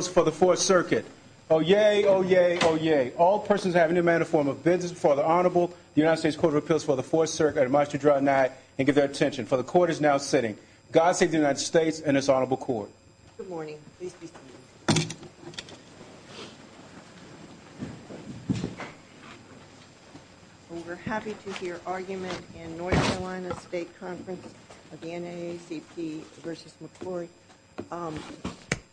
for the Fourth Circuit. Oyez, oyez, oyez. All persons who have any manner of form of business before the Honorable United States Court of Appeals for the Fourth Circuit must withdraw an act and give their abstention, for the Court is now sitting. God save the United States and its Honorable Court. Good morning. We are happy to hear arguments in North Carolina State Conference of the NAACP v. McCrory.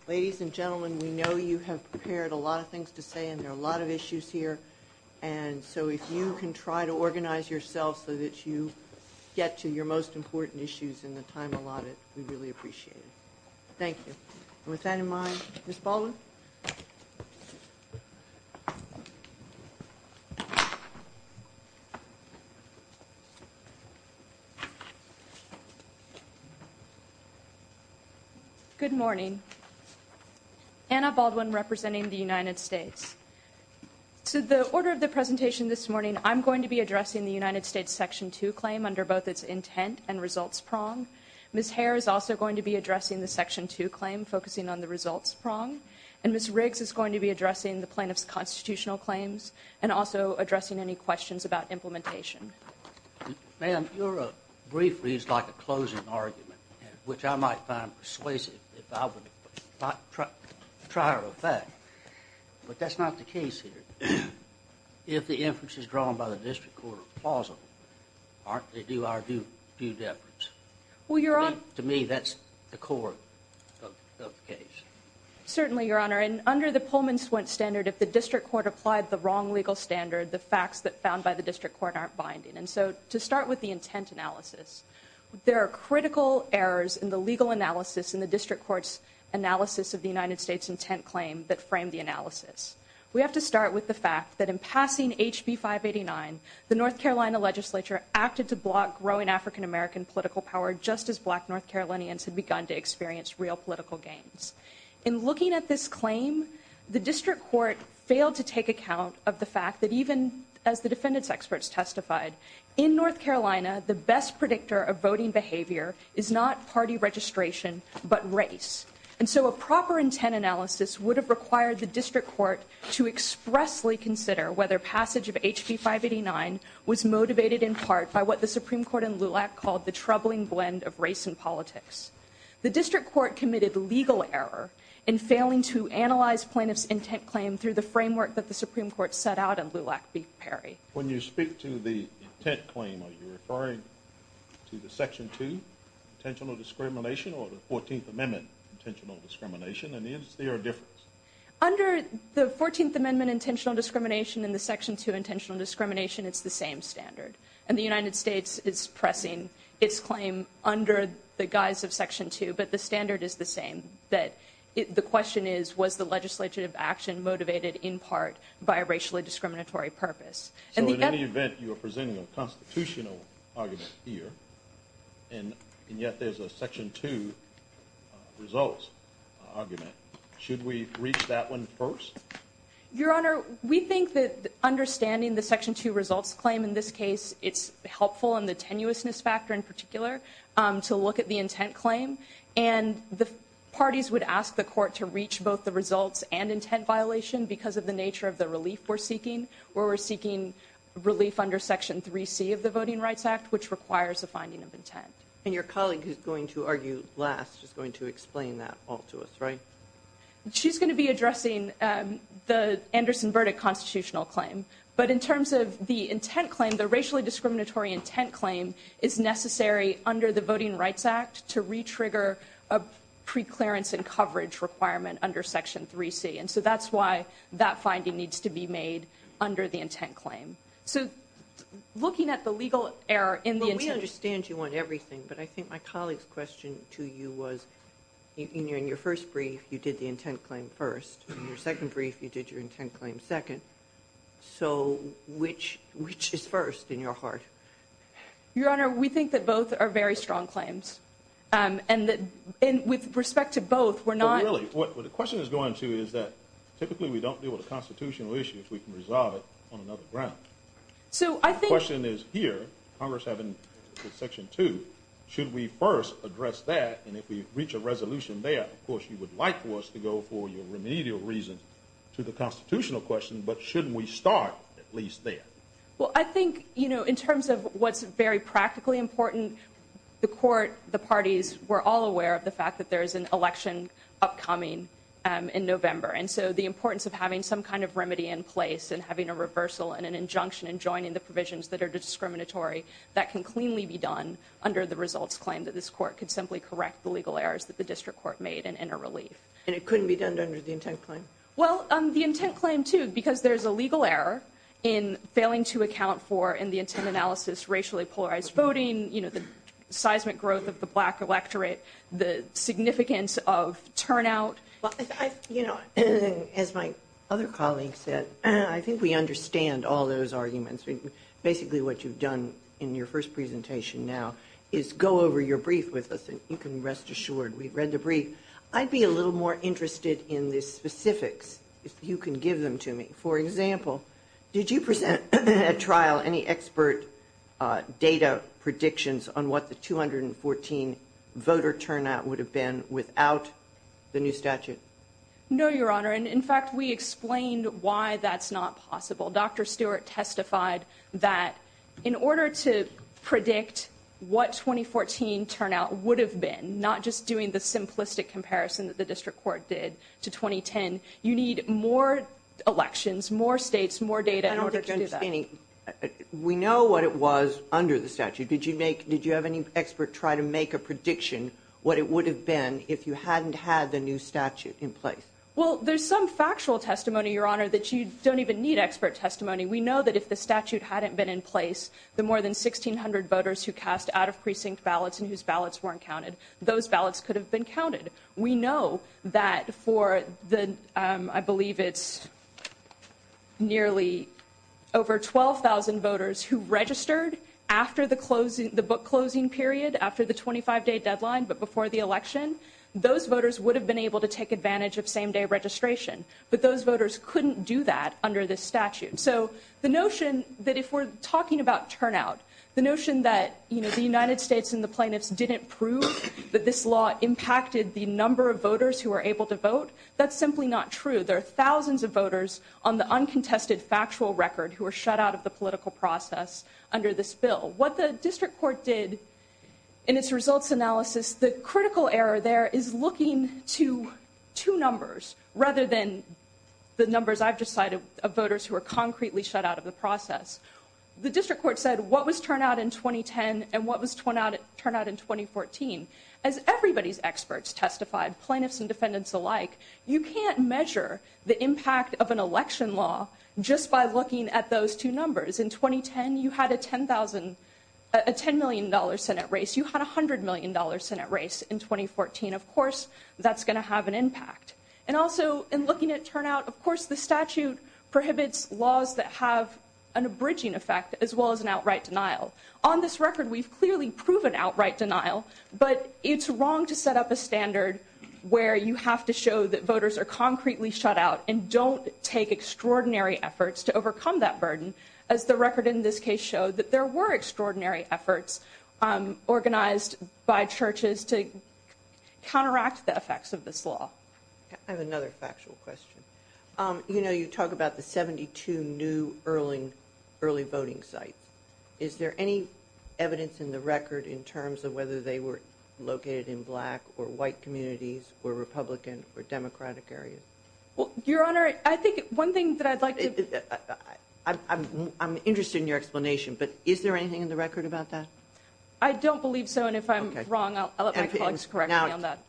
Ladies and gentlemen, we know you have prepared a lot of things to say and there are a lot of issues here, and so if you can try to organize yourself so that you get to your most important issues in the time allotted, we really appreciate it. Thank you. With that in mind, Ms. Baldwin? Good morning. Anna Baldwin representing the United States. To the order of the presentation this morning, I'm going to be addressing the United States Section 2 claim under both its intent and results prong. Ms. Hare is also going to be addressing the Section 2 claim, focusing on the results prong, and Ms. Riggs is going to be addressing the plaintiff's constitutional claims and also addressing any questions about implementation. Ma'am, your brief reads like a closing argument, which I might find persuasive if I were to try it with that, but that's not the case here. If the inference is drawn by the district court plausible, aren't they due argued efforts? To me, that's the core of the case. Certainly, Your Honor. And under the Pullman-Swent standard, if the district court applied the wrong legal standard, the facts found by the district court aren't binding. And so to start with the intent analysis, there are critical errors in the legal analysis in the district court's analysis of the United States intent claim that frame the analysis. We have to start with the fact that in passing HB 589, the North Carolina legislature acted to block growing African-American political power just as black North Carolinians had begun to experience real political gains. In looking at this claim, the district court failed to take account of the fact that even as the defendants' experts testified, in North Carolina, the best predictor of voting behavior is not party registration but race. And so a proper intent analysis would have required the district court to expressly consider whether passage of HB 589 was motivated in part by what the Supreme Court in LULAC called the troubling blend of race and politics. The district court committed legal error in failing to analyze plaintiff's intent claim through the framework that the Supreme Court set out in LULAC v. Perry. When you speak to the intent claim, are you referring to the Section 2, potential discrimination or the 14th Amendment intentional discrimination? I mean, is there a difference? Under the 14th Amendment intentional discrimination and the Section 2 intentional discrimination, it's the same standard. And the United States is pressing its claim under the guise of Section 2, but the standard is the same. The question is, was the legislative action motivated in part by a racially discriminatory purpose? So in any event, you are presenting a constitutional argument here, and yet there's a Section 2 results argument. Should we reach that one first? Your Honor, we think that understanding the Section 2 results claim in this case, it's helpful in the tenuousness factor in particular to look at the intent claim. And the parties would ask the court to reach both the results and intent violation because of the nature of the relief we're seeking, where we're seeking relief under Section 3C of the Voting Rights Act, which requires the finding of intent. And your colleague, who's going to argue last, is going to explain that all to us, right? She's going to be addressing the Anderson verdict constitutional claim. But in terms of the intent claim, the racially discriminatory intent claim is necessary under the Voting Rights Act to retrigger a preclearance and coverage requirement under Section 3C. And so that's why that finding needs to be made under the intent claim. So looking at the legal error in the intent... We understand you want everything, but I think my colleague's question to you was, in your first brief, you did the intent claim first. In your second brief, you did your intent claim second. So which is first in your heart? Your Honor, we think that both are very strong claims. And with respect to both, we're not... But really, what the question is going to is that typically we don't deal with a constitutional issue if we can resolve it on another ground. So I think... The question is here, Congress having Section 2, should we first address that? And if we reach a resolution there, of course, you would like for us to go for your remedial reasons to the constitutional question, but shouldn't we start at least there? Well, I think, you know, in terms of what's very practically important, the court, the parties, were all aware of the fact that there is an election upcoming in November. And so the importance of having some kind of remedy in place and having a reversal and an injunction and joining the provisions that are discriminatory, that can cleanly be done under the results claim that this court could simply correct the legal errors that the district court made and enter relief. And it couldn't be done under the intent claim? Well, the intent claim, too, because there's a legal error in failing to account for, in the intent analysis, racially polarized voting, you know, the seismic growth of the black electorate, the significance of turnout. You know, as my other colleague said, I think we understand all those arguments. Basically, what you've done in your first presentation now is go over your brief with us and you can rest assured. We've read the brief. I'd be a little more interested in the specifics if you can give them to me. For example, did you present at trial any expert data predictions on what the 214 voter turnout would have been without the new statute? No, Your Honor. And, in fact, we explained why that's not possible. Dr. Stewart testified that in order to predict what 2014 turnout would have been, not just doing the simplistic comparison that the district court did to 2010, you need more elections, more states, more data in order to do that. We know what it was under the statute. Did you have any expert try to make a prediction what it would have been if you hadn't had the new statute in place? Well, there's some factual testimony, Your Honor, that you don't even need expert testimony. We know that if the statute hadn't been in place, the more than 1,600 voters who cast out-of-precinct ballots and whose ballots weren't counted, those ballots could have been counted. We know that for the, I believe it's nearly over 12,000 voters who registered after the book-closing period, after the 25-day deadline, but before the election, those voters would have been able to take advantage of same-day registration. But those voters couldn't do that under this statute. So the notion that if we're talking about turnout, the notion that the United States and the plaintiffs didn't prove that this law impacted the number of voters who were able to vote, that's simply not true. There are thousands of voters on the uncontested factual record who were shut out of the political process under this bill. What the district court did in its results analysis, the critical error there is looking to two numbers rather than the numbers I've just cited of voters who were concretely shut out of the process. The district court said, what was turnout in 2010 and what was turnout in 2014? As everybody's experts testified, plaintiffs and defendants alike, you can't measure the impact of an election law just by looking at those two numbers. In 2010, you had a $10 million Senate race. You had a $100 million Senate race in 2014. Of course, that's going to have an impact. And also, in looking at turnout, of course, the statute prohibits laws that have an abridging effect as well as an outright denial. On this record, we've clearly proven outright denial. But it's wrong to set up a standard where you have to show that voters are concretely shut out and don't take extraordinary efforts to overcome that burden, as the record in this case showed that there were extraordinary efforts organized by churches to counteract the effects of this law. I have another factual question. You know, you talk about the 72 new early voting sites. Is there any evidence in the record in terms of whether they were located in black or white communities or Republican or Democratic areas? Well, Your Honor, I think one thing that I'd like to... I'm interested in your explanation, but is there anything in the record about that? I don't believe so. And if I'm wrong, I'll let my colleagues correct me on that.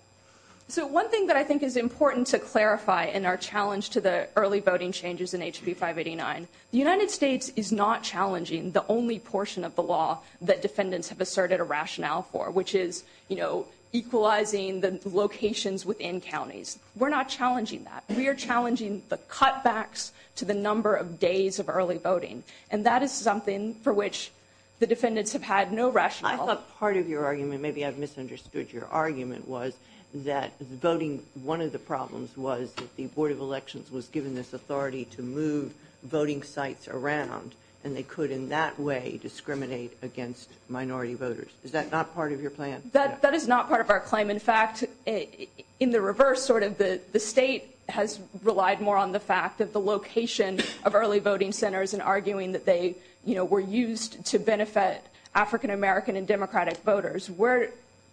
So one thing that I think is important to clarify in our challenge to the early voting changes in HB 589, the United States is not challenging the only portion of the law that defendants have asserted a rationale for, which is, you know, equalizing the locations within counties. We're not challenging that. We are challenging the cutbacks to the number of days of early voting. And that is something for which the defendants have had no rationale. I thought part of your argument, maybe I've misunderstood your argument, was that voting, one of the problems was that the Board of Elections was given this authority to move voting sites around, and they could in that way discriminate against minority voters. Is that not part of your plan? That is not part of our plan. In fact, in the reverse, sort of, the state has relied more on the fact of the location of early voting centers and arguing that they, you know, were used to benefit African-American and Democratic voters. We're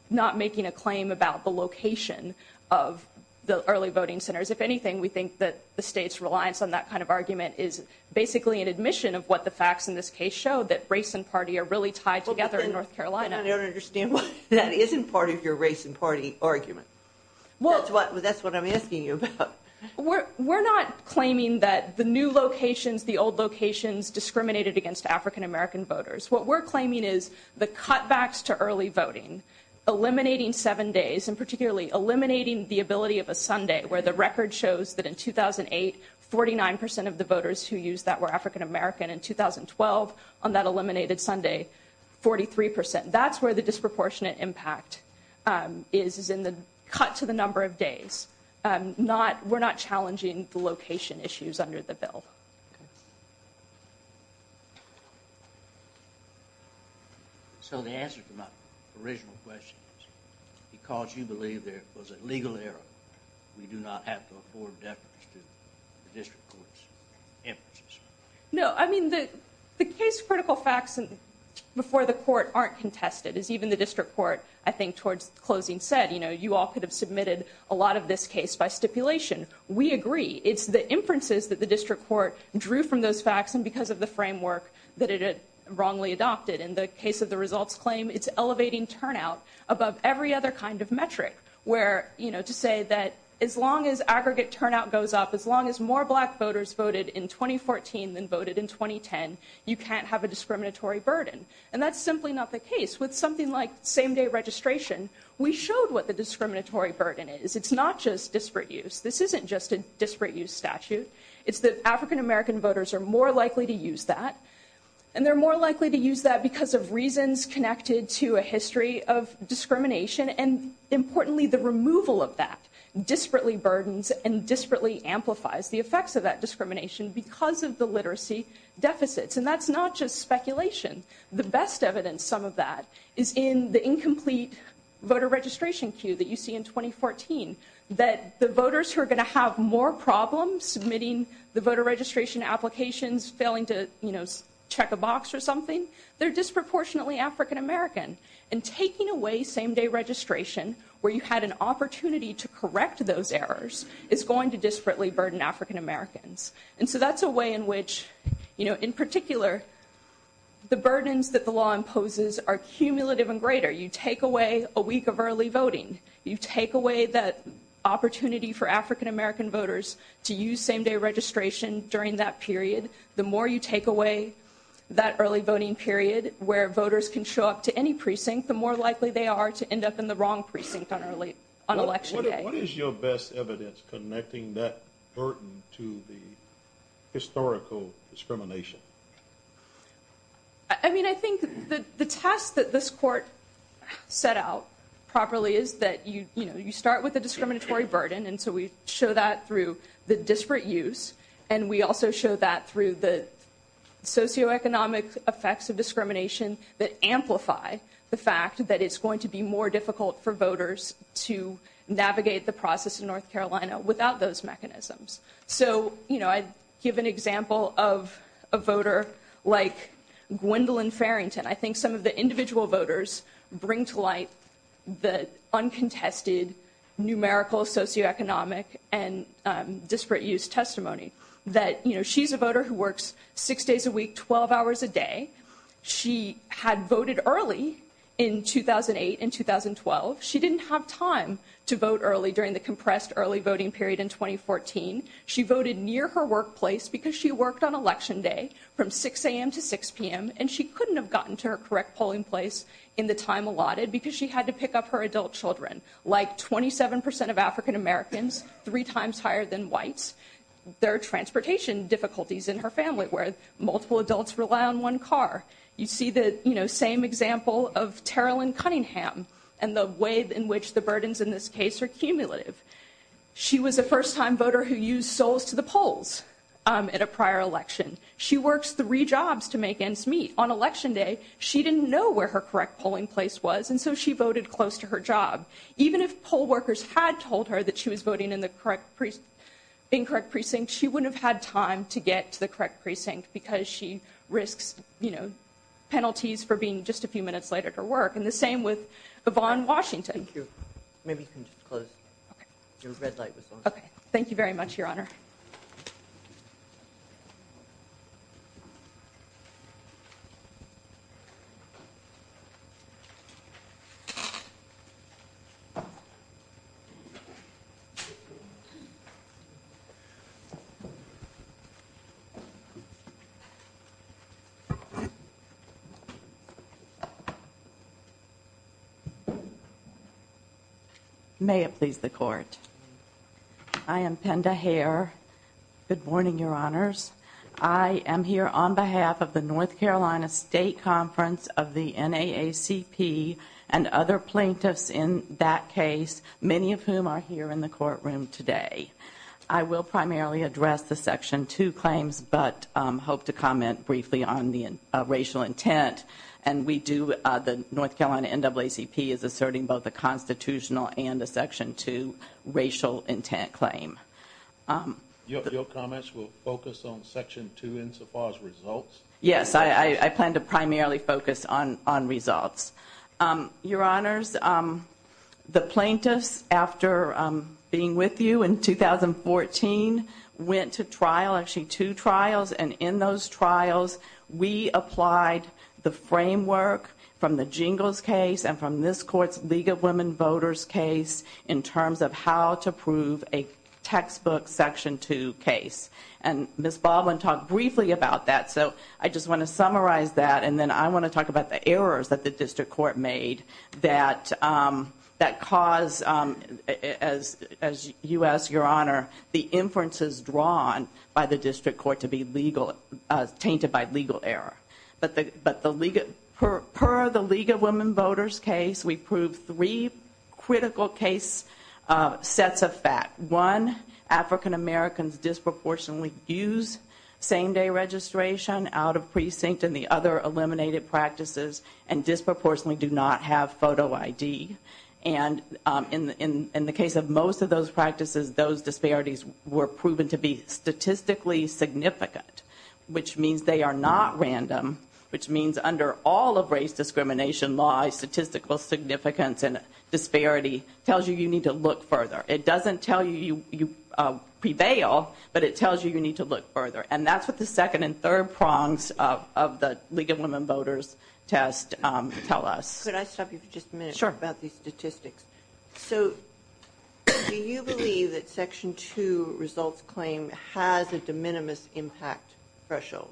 not making a claim about the location of the early voting centers. If anything, we think that the state's reliance on that kind of argument is basically an admission of what the facts in this case show, that race and party are really tied together in North Carolina. I don't understand why that isn't part of your race and party argument. That's what I'm asking you about. We're not claiming that the new locations, the old locations discriminated against African-American voters. What we're claiming is the cutbacks to early voting, eliminating seven days, and particularly eliminating the ability of a Sunday, where the record shows that in 2008, 49% of the voters who used that were African-American. In 2012, on that eliminated Sunday, 43%. That's where the disproportionate impact is, is in the cuts of the number of days. We're not challenging the location issues under the bill. So the answer to my original question is, because you believe there was a legal error, we do not have to afford deficits to the district court's emphasis. No, I mean, the case-critical facts before the court aren't contested. As even the district court, I think, towards the closing said, you know, you all could have submitted a lot of this case by stipulation. We agree. It's the inferences that the district court drew from those facts and because of the framework that it had wrongly adopted. In the case of the results claim, it's elevating turnout above every other kind of metric, where, you know, to say that as long as aggregate turnout goes up, as long as more black voters voted in 2014 than voted in 2010, you can't have a discriminatory burden. And that's simply not the case. With something like same-day registration, we showed what the discriminatory burden is. It's not just disparate use. This isn't just a disparate use statute. It's that African-American voters are more likely to use that. And they're more likely to use that because of reasons connected to a history of discrimination and, importantly, the removal of that disparately burdens and disparately amplifies the effects of that discrimination because of the literacy deficits. And that's not just speculation. The best evidence of some of that is in the incomplete voter registration queue that you see in 2014, that the voters who are going to have more problems submitting the voter registration applications, failing to, you know, check a box or something, they're disproportionately African-American. And taking away same-day registration where you had an opportunity to correct those errors is going to disparately burden African-Americans. And so that's a way in which, you know, in particular, the burdens that the law imposes are cumulative and greater. You take away a week of early voting. You take away that opportunity for African-American voters to use same-day registration during that period. The more you take away that early voting period where voters can show up to any precinct, the more likely they are to end up in the wrong precinct on election day. What is your best evidence connecting that burden to the historical discrimination? I mean, I think the test that this court set out properly is that, you know, you start with a discriminatory burden. And so we show that through the disparate use. And we also show that through the socioeconomic effects of discrimination that amplify the it's going to be more difficult for voters to navigate the process in North Carolina without those mechanisms. So, you know, I'd give an example of a voter like Gwendolyn Farrington. I think some of the individual voters bring to light the uncontested numerical socioeconomic and disparate use testimony that, you know, she's a voter who works six days a week, 12 hours a day. She had voted early in 2008 and 2012. She didn't have time to vote early during the compressed early voting period in 2014. She voted near her workplace because she worked on election day from 6 a.m. to 6 p.m. And she couldn't have gotten to her correct polling place in the time allotted because she had to pick up her adult children, like 27% of African Americans, three times higher than whites. There are transportation difficulties in her family, where multiple adults rely on one car. You see the, you know, same example of Tara Lynn Cunningham and the ways in which the burdens in this case are cumulative. She was the first time voter who used soles to the polls at a prior election. She works three jobs to make ends meet. On election day, she didn't know where her correct polling place was, and so she voted close to her job. Even if poll workers had told her that she was voting in the incorrect precinct, she wouldn't have had time to get to the correct precinct because she risks, you know, penalties for being just a few minutes late at her work. And the same with Yvonne Washington. Thank you. Maybe you can just close. Okay. Your red light was on. Okay. Thank you very much, Your Honor. May it please the Court. I am Pender Hare. Good morning, Your Honors. I am here on behalf of the North Carolina State Conference of the NAACP and other plaintiffs in that case, many of whom are here in the courtroom today. I will primarily address the Section 2 claims, but hope to comment briefly on the racial intent. And we do, the North Carolina NAACP is asserting both a constitutional and a Section 2 racial intent claim. Your comments will focus on Section 2 insofar as results? Yes. I plan to primarily focus on results. Your Honors, the plaintiffs, after being with you in 2014, went to trial, actually two trials. And in those trials, we applied the framework from the Jingles case and from this Court's League of Women Voters case in terms of how to prove a textbook Section 2 case. And Ms. Baldwin talked briefly about that. So I just want to summarize that. And then I want to talk about the errors that the District Court made that caused, as you asked, Your Honor, the inferences drawn by the District Court to be tainted by legal error. But per the League of Women Voters case, we proved three critical case sets of facts. One, African-Americans disproportionately use same-day registration out of precinct and the other eliminated practices and disproportionately do not have photo ID. And in the case of most of those practices, those disparities were proven to be statistically significant, which means they are not random, which means under all of race discrimination laws, statistical significance and disparity tells you you need to look further. It doesn't tell you you prevail, but it tells you you need to look further. And that's what the second and third prongs of the League of Women Voters test tell us. Could I stop you for just a minute? Sure. About the statistics. So do you believe that Section 2 results claim has a de minimis impact threshold?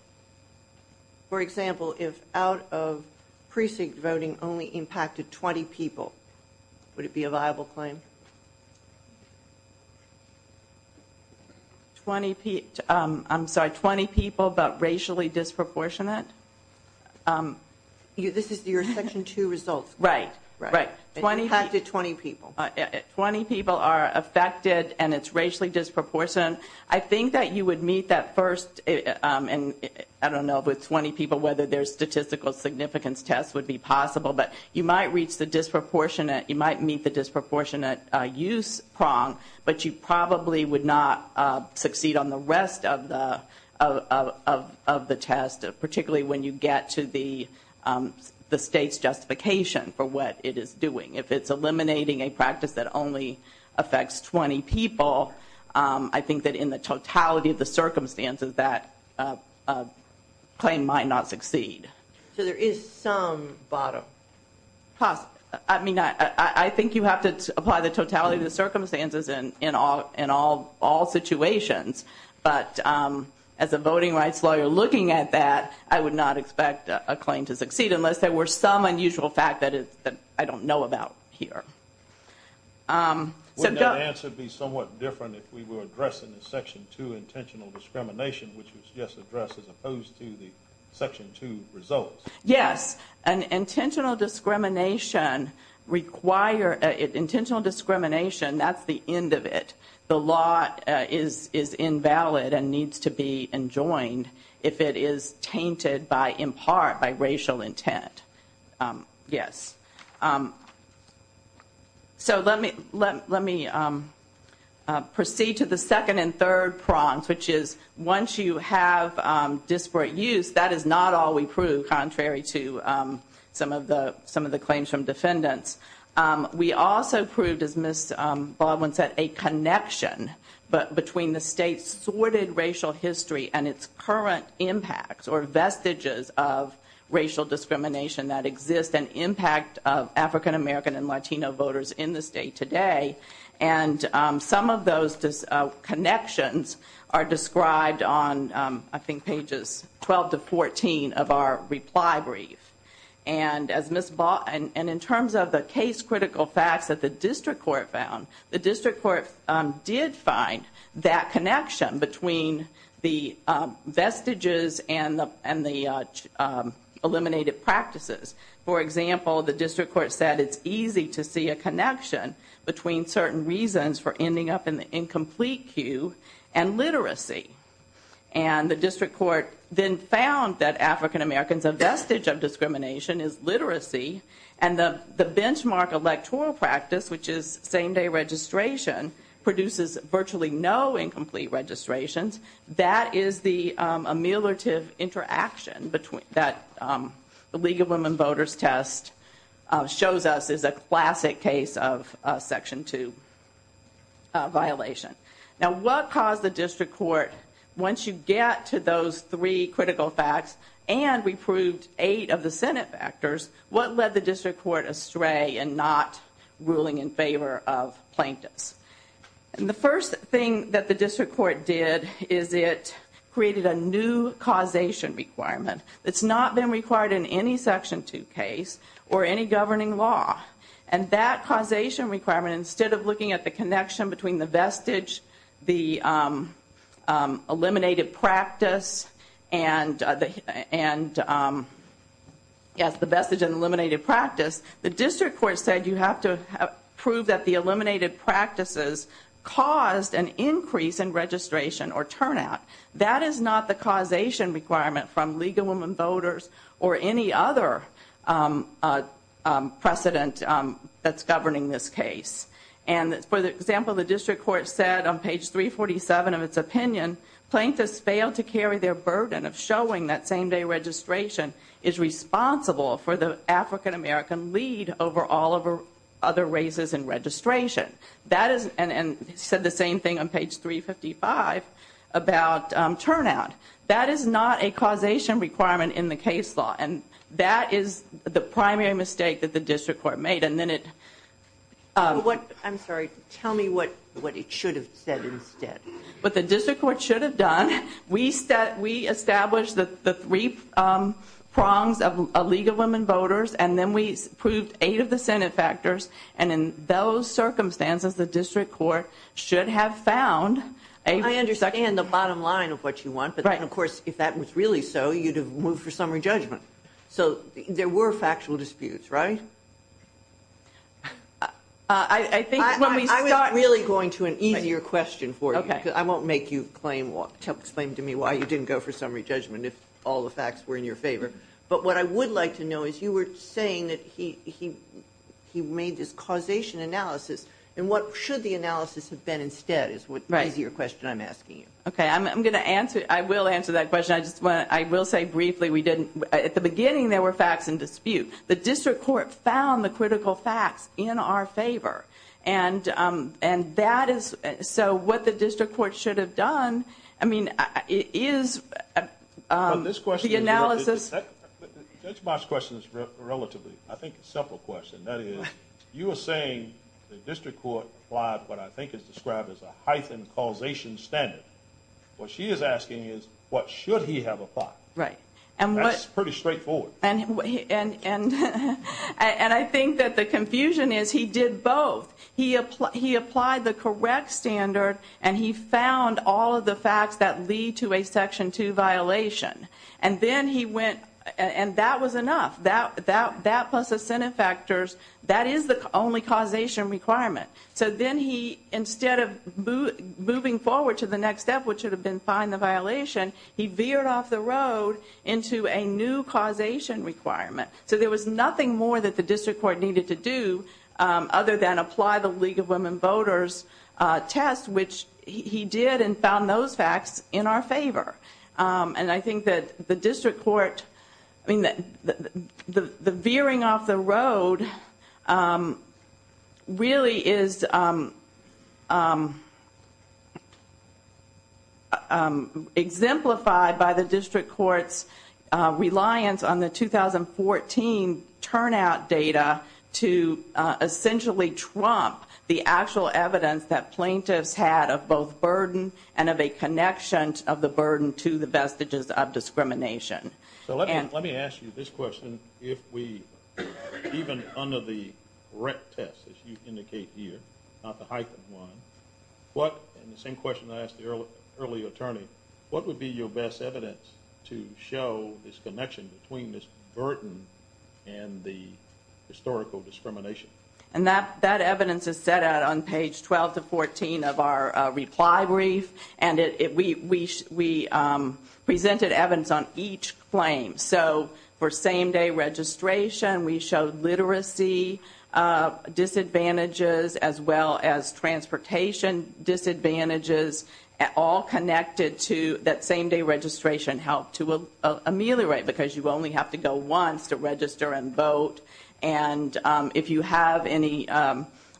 For example, if out of precinct voting only impacted 20 people, would it be a viable claim? I'm sorry, 20 people but racially disproportionate? This is your Section 2 results. Right. Right. It impacted 20 people. 20 people are affected and it's racially disproportionate. I think that you would meet that first, and I don't know with 20 people whether their statistical significance test would be possible, but you might reach the disproportionate, you might meet the disproportionate use prong, but you probably would not succeed on the rest of the test, particularly when you get to the state's justification for what it is doing. If it's eliminating a practice that only affects 20 people, I think that in the totality of the circumstances that claim might not succeed. So there is some bottom. I mean, I think you have to apply the totality of the circumstances in all situations, but as a voting rights lawyer looking at that, I would not expect a claim to succeed unless there were some unusual fact that I don't know about here. Wouldn't that answer be somewhat different if we were addressing the Section 2 intentional discrimination, which was just addressed as opposed to the Section 2 results? Yes. An intentional discrimination require-intentional discrimination, that's the end of it. The law is invalid and needs to be enjoined if it is tainted by, in part, by racial intent. Yes. So let me proceed to the second and third prongs, which is once you have disparate use, that is not all we proved, contrary to some of the claims from defendants. We also proved, as Ms. Baldwin said, a connection between the state's thwarted racial history and its current impacts or vestiges of racial discrimination that exists and impact of African American and Latino voters in the state today. And some of those connections are described on, I think, pages 12 to 14 of our reply brief. And as Ms. Baldwin-and in terms of the case-critical facts that the district court found, the district court did find that connection between the vestiges and the-and the eliminated practices. For example, the district court said it's easy to see a connection between certain reasons for ending up in the incomplete queue and literacy. And the district court then found that African Americans' vestige of discrimination is literacy and the benchmark electoral practice, which is same-day registration, produces virtually no incomplete registrations. That is the ameliorative interaction between-that the League of Women Voters test shows us is a classic case of Section 2 violation. Now, what caused the district court, once you get to those three critical facts and we proved eight of the Senate factors, what led the district court astray and not ruling in favor of plaintiffs? And the first thing that the district court did is it created a new causation requirement. It's not been required in any Section 2 case or any governing law. And that causation requirement, instead of looking at the connection between the vestige, the eliminated practice, and the-and, yes, the vestige and eliminated practice, the district court said you have to prove that the eliminated practices caused an increase in registration or turnout. That is not the causation requirement from League of Women Voters or any other precedent that's governing this case. And, for example, the district court said on page 347 of its opinion, plaintiffs fail to carry their burden of showing that same-day registration is responsible for the African American lead over all other races in registration. That is-and it said the same thing on page 355 about turnout. That is not a causation requirement in the case law. And that is the primary mistake that the district court made. And then it- I'm sorry. Tell me what it should have said instead. What the district court should have done, we established the three prongs of League of Women Voters, and then we proved eight of the Senate factors, and in those circumstances, the district court should have found- I understand the bottom line of what you want. Right. But, of course, if that was really so, you'd have moved for summary judgment. So, there were factual disputes, right? I think- I'm not really going to an easier question for you. Okay. Because I won't make you claim-explain to me why you didn't go for summary judgment if all the facts were in your favor. But what I would like to know is you were saying that he made this causation analysis, and what should the analysis have been instead is your question I'm asking you. Okay. I'm going to answer-I will answer that question. I will say briefly we didn't-at the beginning, there were facts and disputes. The district court found the critical facts in our favor. And that is-so, what the district court should have done, I mean, it is- This question- The analysis- That's my question relatively. I think it's a simple question. You were saying the district court applied what I think is described as a hyphen causation standard. What she is asking is what should he have applied? Right. And what- That's pretty straightforward. And I think that the confusion is he did both. He applied the correct standard, and he found all of the facts that lead to a Section 2 violation. And then he went-and that was enough. That plus incentive factors, that is the only causation requirement. So then he, instead of moving forward to the next step, which would have been find the violation, he veered off the road into a new causation requirement. So there was nothing more that the district court needed to do other than apply the League of Women Voters test, which he did and found those facts in our favor. And I think that the district court-the veering off the road really is exemplified by the district court's reliance on the 2014 turnout data to essentially trump the actual evidence that plaintiffs had of both burden and of a connection of the burden to the vestiges of discrimination. So let me ask you this question. If we-even under the rec test, as you indicate here, not the hyphen one, and the same question I asked the early attorney, what would be your best evidence to show this connection between this burden and the historical discrimination? And that evidence is set out on page 12 to 14 of our reply brief. And we presented evidence on each claim. So for same-day registration, we showed literacy disadvantages as well as transportation disadvantages all connected to that same-day registration help to ameliorate because you only have to go once to register and vote. And if you have any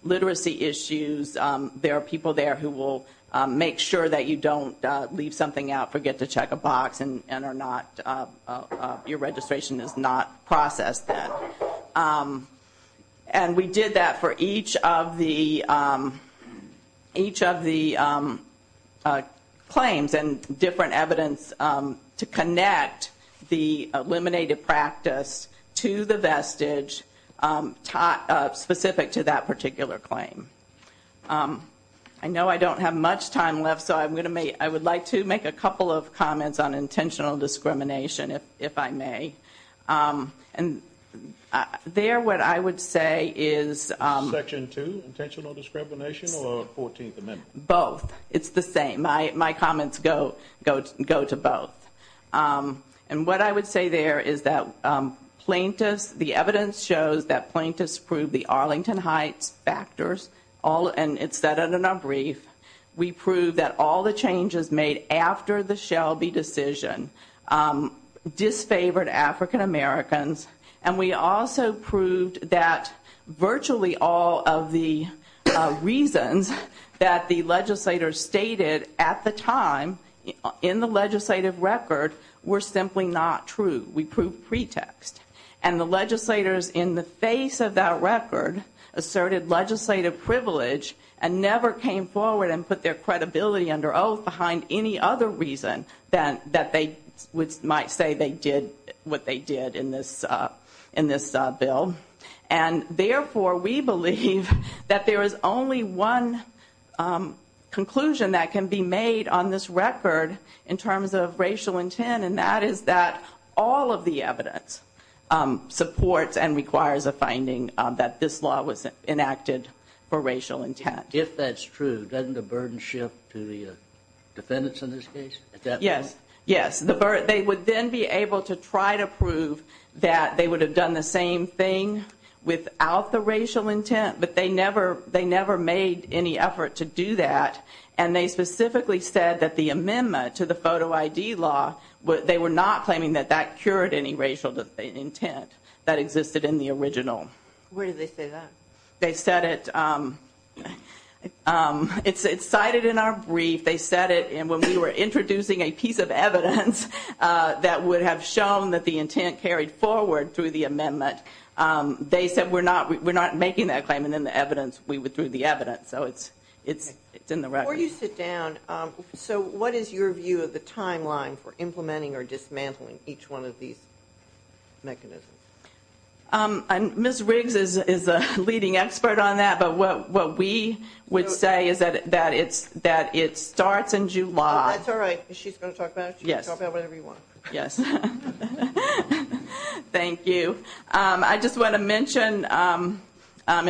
literacy issues, there are people there who will make sure that you don't leave something out, forget to check a box, and are not-your registration is not processed then. And we did that for each of the claims and different evidence to connect the eliminated practice to the vestige specific to that particular claim. I know I don't have much time left, so I'm going to make-I would like to make a couple of comments on intentional discrimination, if I may. And there, what I would say is- Section 2, intentional discrimination, or 14th Amendment? Both. It's the same. My comments go to both. And what I would say there is that plaintiffs-the evidence shows that plaintiffs proved the Arlington Heights factors, and it's set in a brief. We proved that all the changes made after the Shelby decision disfavored African Americans. And we also proved that virtually all of the reasons that the legislators stated at the time in the legislative record were simply not true. We proved pretext. And the legislators, in the face of that record, asserted legislative privilege, and never came forward and put their credibility under oath behind any other reason that they might say they did what they did in this bill. And therefore, we believe that there is only one conclusion that can be made on this record in terms of racial intent, and that is that all of the evidence supports and requires a finding that this law was enacted for racial intent. If that's true, doesn't the burden shift to the defendants in this case? Yes. Yes. They would then be able to try to prove that they would have done the same thing without the racial intent, but they never made any effort to do that. And they specifically said that the amendment to the photo ID law, they were not claiming that that cured any racial intent that existed in the original. Where did they say that? They said it's cited in our brief. They said it when we were introducing a piece of evidence that would have shown that the intent carried forward through the amendment. They said we're not making that claim, and in the evidence, we withdrew the evidence. So it's in the record. Before you sit down, so what is your view of the timeline for implementing or dismantling each one of these mechanisms? Ms. Riggs is a leading expert on that, but what we would say is that it starts in July. That's all right. She's going to talk about it. She can talk about whatever you want. Yes. Thank you. I just want to mention in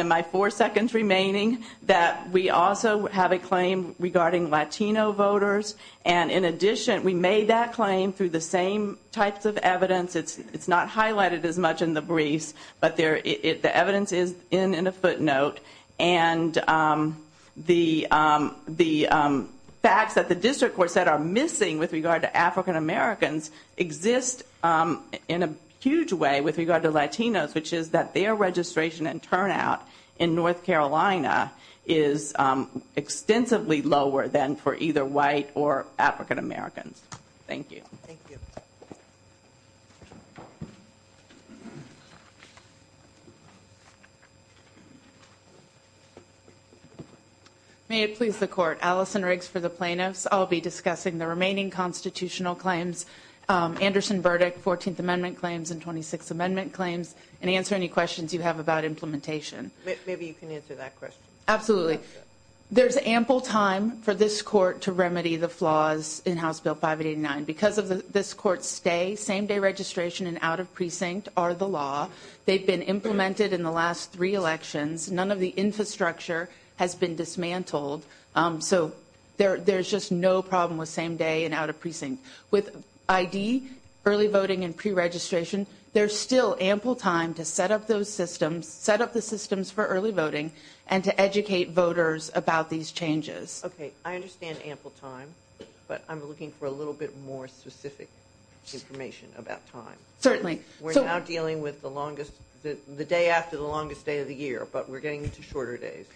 my four seconds remaining that we also have a claim regarding Latino voters. And in addition, we made that claim through the same types of evidence. It's not highlighted as much in the brief, but the evidence is in a footnote. And the facts that the district courts said are missing with regard to African Americans exist in a huge way with regard to Latinos, which is that their registration and turnout in North Carolina is extensively lower than for either white or African Americans. Thank you. Thank you. May it please the Court. Alison Riggs for the plaintiffs. I'll be discussing the remaining constitutional claims, Anderson verdict, 14th Amendment claims, and 26th Amendment claims, and answer any questions you have about implementation. Maybe you can answer that question. Absolutely. There's ample time for this court to remedy the flaws in House Bill 589. Because of this court's stay, same-day registration and out of precinct are the law. They've been implemented in the last three elections. None of the infrastructure has been dismantled. So there's just no problem with same-day and out of precinct. With ID, early voting, and preregistration, there's still ample time to set up those systems, set up the systems for early voting, and to educate voters about these changes. Okay. I understand ample time, but I'm looking for a little bit more specific information about time. Certainly. We're now dealing with the day after the longest day of the year, but we're getting into shorter days.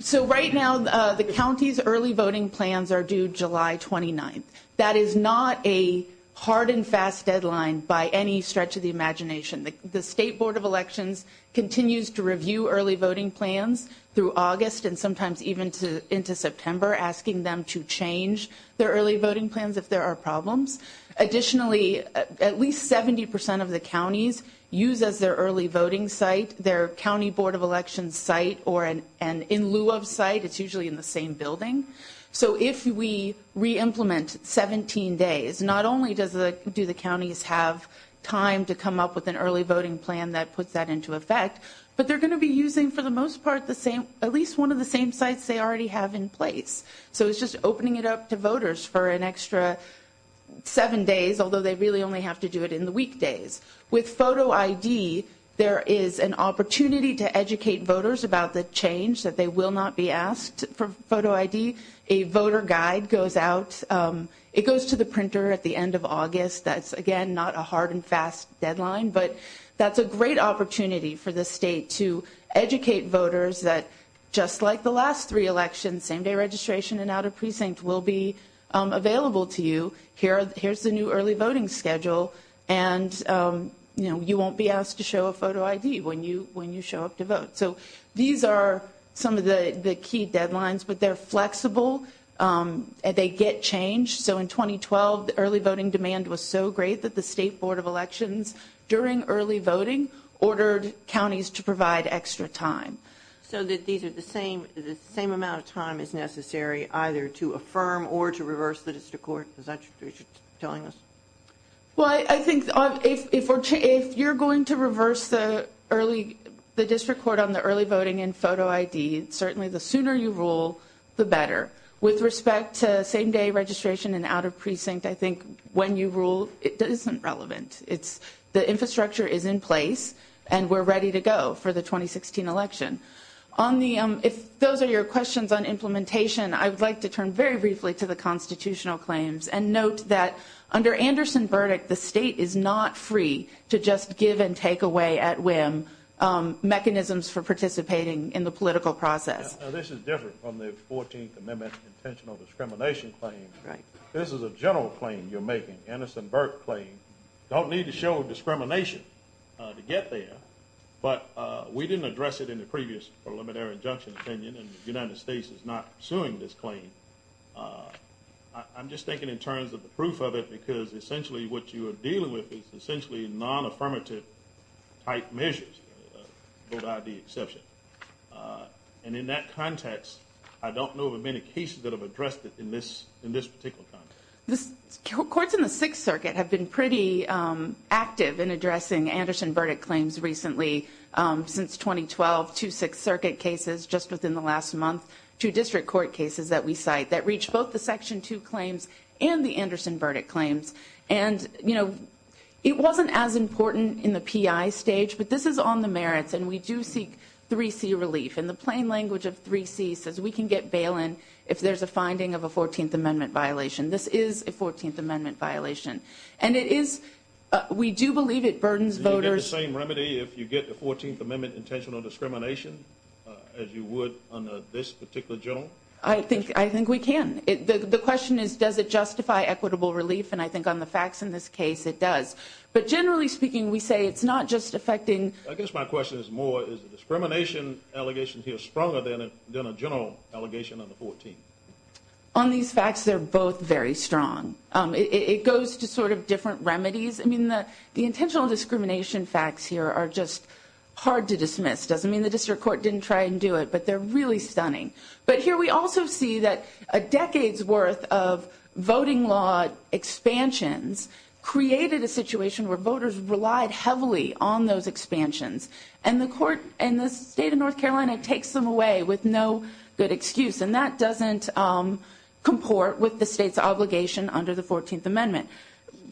So right now, the county's early voting plans are due July 29th. That is not a hard and fast deadline by any stretch of the imagination. The State Board of Elections continues to review early voting plans through August and sometimes even into September, asking them to change their early voting plans if there are problems. Additionally, at least 70% of the counties use their early voting site, their County Board of Elections site, and in lieu of site, it's usually in the same building. So if we reimplement 17 days, not only do the counties have time to come up with an early voting plan that puts that into effect, but they're going to be using, for the most part, at least one of the same sites they already have in place. So it's just opening it up to voters for an extra seven days, although they really only have to do it in the weekdays. With photo ID, there is an opportunity to educate voters about the change that they will not be asked for photo ID. A voter guide goes out. It goes to the printer at the end of August. That's, again, not a hard and fast deadline, but that's a great opportunity for the state to educate voters that, just like the last three elections, same-day registration and out-of-precinct will be available to you. Here's the new early voting schedule, and, you know, you won't be asked to show a photo ID when you show up to vote. So these are some of the key deadlines, but they're flexible, and they get changed. So in 2012, the early voting demand was so great that the State Board of Elections, during early voting, ordered counties to provide extra time. So that these are the same amount of time as necessary either to affirm or to reverse the district court, as I'm sure you're telling us. Well, I think if you're going to reverse the district court on the early voting and photo ID, certainly the sooner you rule, the better. With respect to same-day registration and out-of-precinct, I think when you rule, it isn't relevant. The infrastructure is in place, and we're ready to go for the 2016 election. Those are your questions on implementation. I'd like to turn very briefly to the constitutional claims and note that under Anderson's verdict, the state is not free to just give and take away at whim mechanisms for participating in the political process. This is different from the 14th Amendment intentional discrimination claim. Right. This is a general claim you're making, Anderson-Burke claim. You don't need to show discrimination to get there, but we didn't address it in the previous preliminary injunction opinion, and the United States is not pursuing this claim. I'm just thinking in terms of the proof of it because essentially what you are dealing with is essentially non-affirmative-type measures, without the exception. And in that context, I don't know of many cases that have addressed it in this particular context. Courts in the Sixth Circuit have been pretty active in addressing Anderson verdict claims recently. Since 2012, two Sixth Circuit cases just within the last month, two district court cases that we cite, that reach both the Section 2 claims and the Anderson verdict claims. And, you know, it wasn't as important in the PI stage, but this is on the merits, and we do seek 3C relief. And the plain language of 3C says we can get bail in if there's a finding of a 14th Amendment violation. This is a 14th Amendment violation. And it is – we do believe it burdens voters. Do you get the same remedy if you get the 14th Amendment intentional discrimination as you would on this particular general? I think we can. The question is, does it justify equitable relief? And I think on the facts in this case, it does. But generally speaking, we say it's not just affecting – I guess my question is more, is the discrimination allegations here stronger than a general allegation on the 14th? On these facts, they're both very strong. It goes to sort of different remedies. I mean, the intentional discrimination facts here are just hard to dismiss. It doesn't mean the district court didn't try and do it, but they're really stunning. But here we also see that a decade's worth of voting law expansions created a situation where voters relied heavily on those expansions. And the court – and the state of North Carolina takes them away with no good excuse. And that doesn't comport with the state's obligation under the 14th Amendment.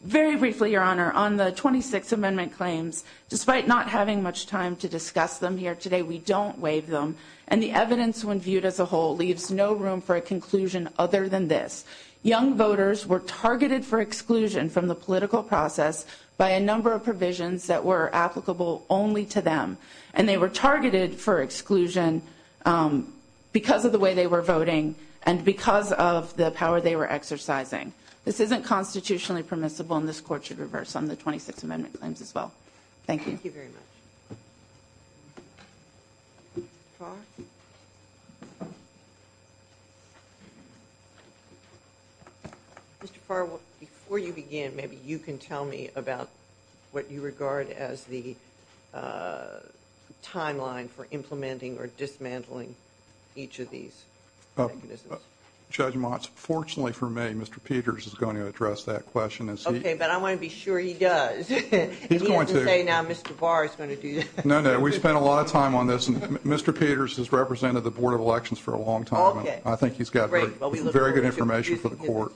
Very briefly, Your Honor, on the 26th Amendment claims, despite not having much time to discuss them here today, we don't waive them. And the evidence when viewed as a whole leaves no room for a conclusion other than this. Young voters were targeted for exclusion from the political process by a number of provisions that were applicable only to them. And they were targeted for exclusion because of the way they were voting and because of the power they were exercising. This isn't constitutionally permissible, and this court should reverse some of the 26th Amendment claims as well. Thank you. Thank you very much. Mr. Farr? Mr. Farr, before you begin, maybe you can tell me about what you regard as the timeline for implementing or dismantling each of these. Judge Motz, fortunately for me, Mr. Peters is going to address that question. Okay, but I want to be sure he does. He's going to. He doesn't say now Mr. Farr is going to do this. No, no, we spent a lot of time on this. Mr. Peters has represented the Board of Elections for a long time. I think he's got very good information for the court.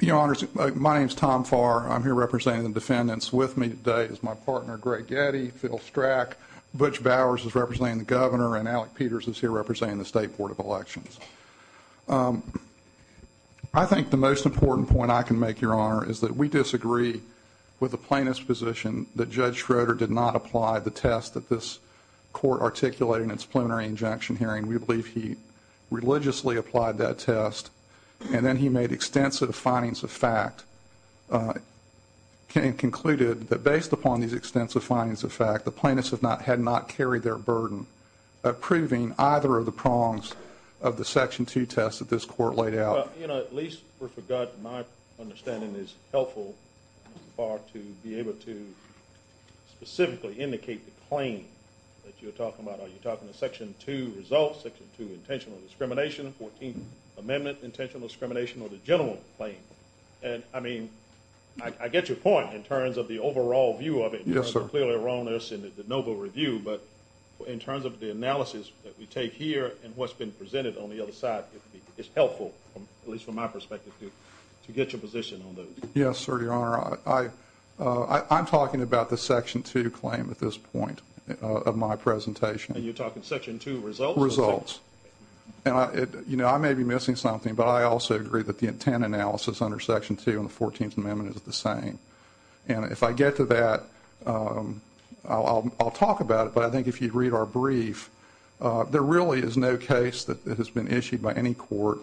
Your Honors, my name is Tom Farr. I'm here representing the defendants with me today is my partner, Greg Getty, Phil Strack. Butch Bowers is representing the governor, and Alec Peters is here representing the State Board of Elections. I think the most important point I can make, Your Honor, is that we disagree with the plaintiff's position that Judge Schroeder did not apply the test that this court articulated in its preliminary injunction hearing. We believe he religiously applied that test, and then he made extensive findings of fact and concluded that based upon these extensive findings of fact, the plaintiffs had not carried their burden approving either of the prongs of the Section 2 test that this court laid out. Well, you know, at least with regard to my understanding, it's helpful, Mr. Farr, to be able to specifically indicate the claim that you're talking about. Are you talking about Section 2 results, Section 2 intentional discrimination, 14th Amendment intentional discrimination, or the general claim? And, I mean, I get your point in terms of the overall view of it. Yes, sir. There's clearly a wrongness in the noble review, but in terms of the analysis that we take here and what's been presented on the other side, it's helpful, at least from my perspective, to get your position on those. Yes, sir, Your Honor. I'm talking about the Section 2 claim at this point of my presentation. And you're talking Section 2 results? Results. You know, I may be missing something, but I also agree that the intent analysis under Section 2 and the 14th Amendment is the same. And if I get to that, I'll talk about it, but I think if you'd read our brief, there really is no case that has been issued by any court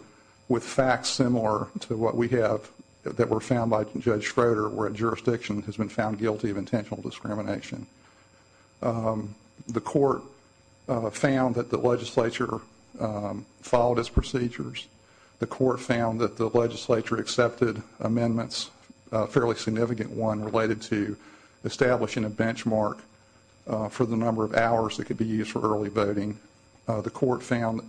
with facts similar to what we have that were found by Judge Schroeder, where a jurisdiction has been found guilty of intentional discrimination. The court found that the legislature followed its procedures. The court found that the legislature accepted amendments, a fairly significant one, related to establishing a benchmark for the number of hours that could be used for early voting. The court found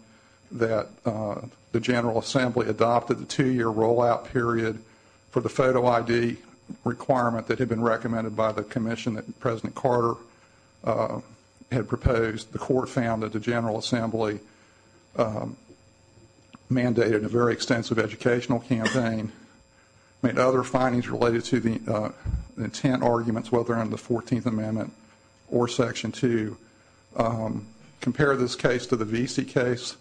that the General Assembly adopted a two-year rollout period for the photo ID requirement that had been recommended by the commission that President Carter had proposed. The court found that the General Assembly mandated a very extensive educational campaign and other findings related to the intent arguments, whether under the 14th Amendment or Section 2. Compare this case to the V.C. case,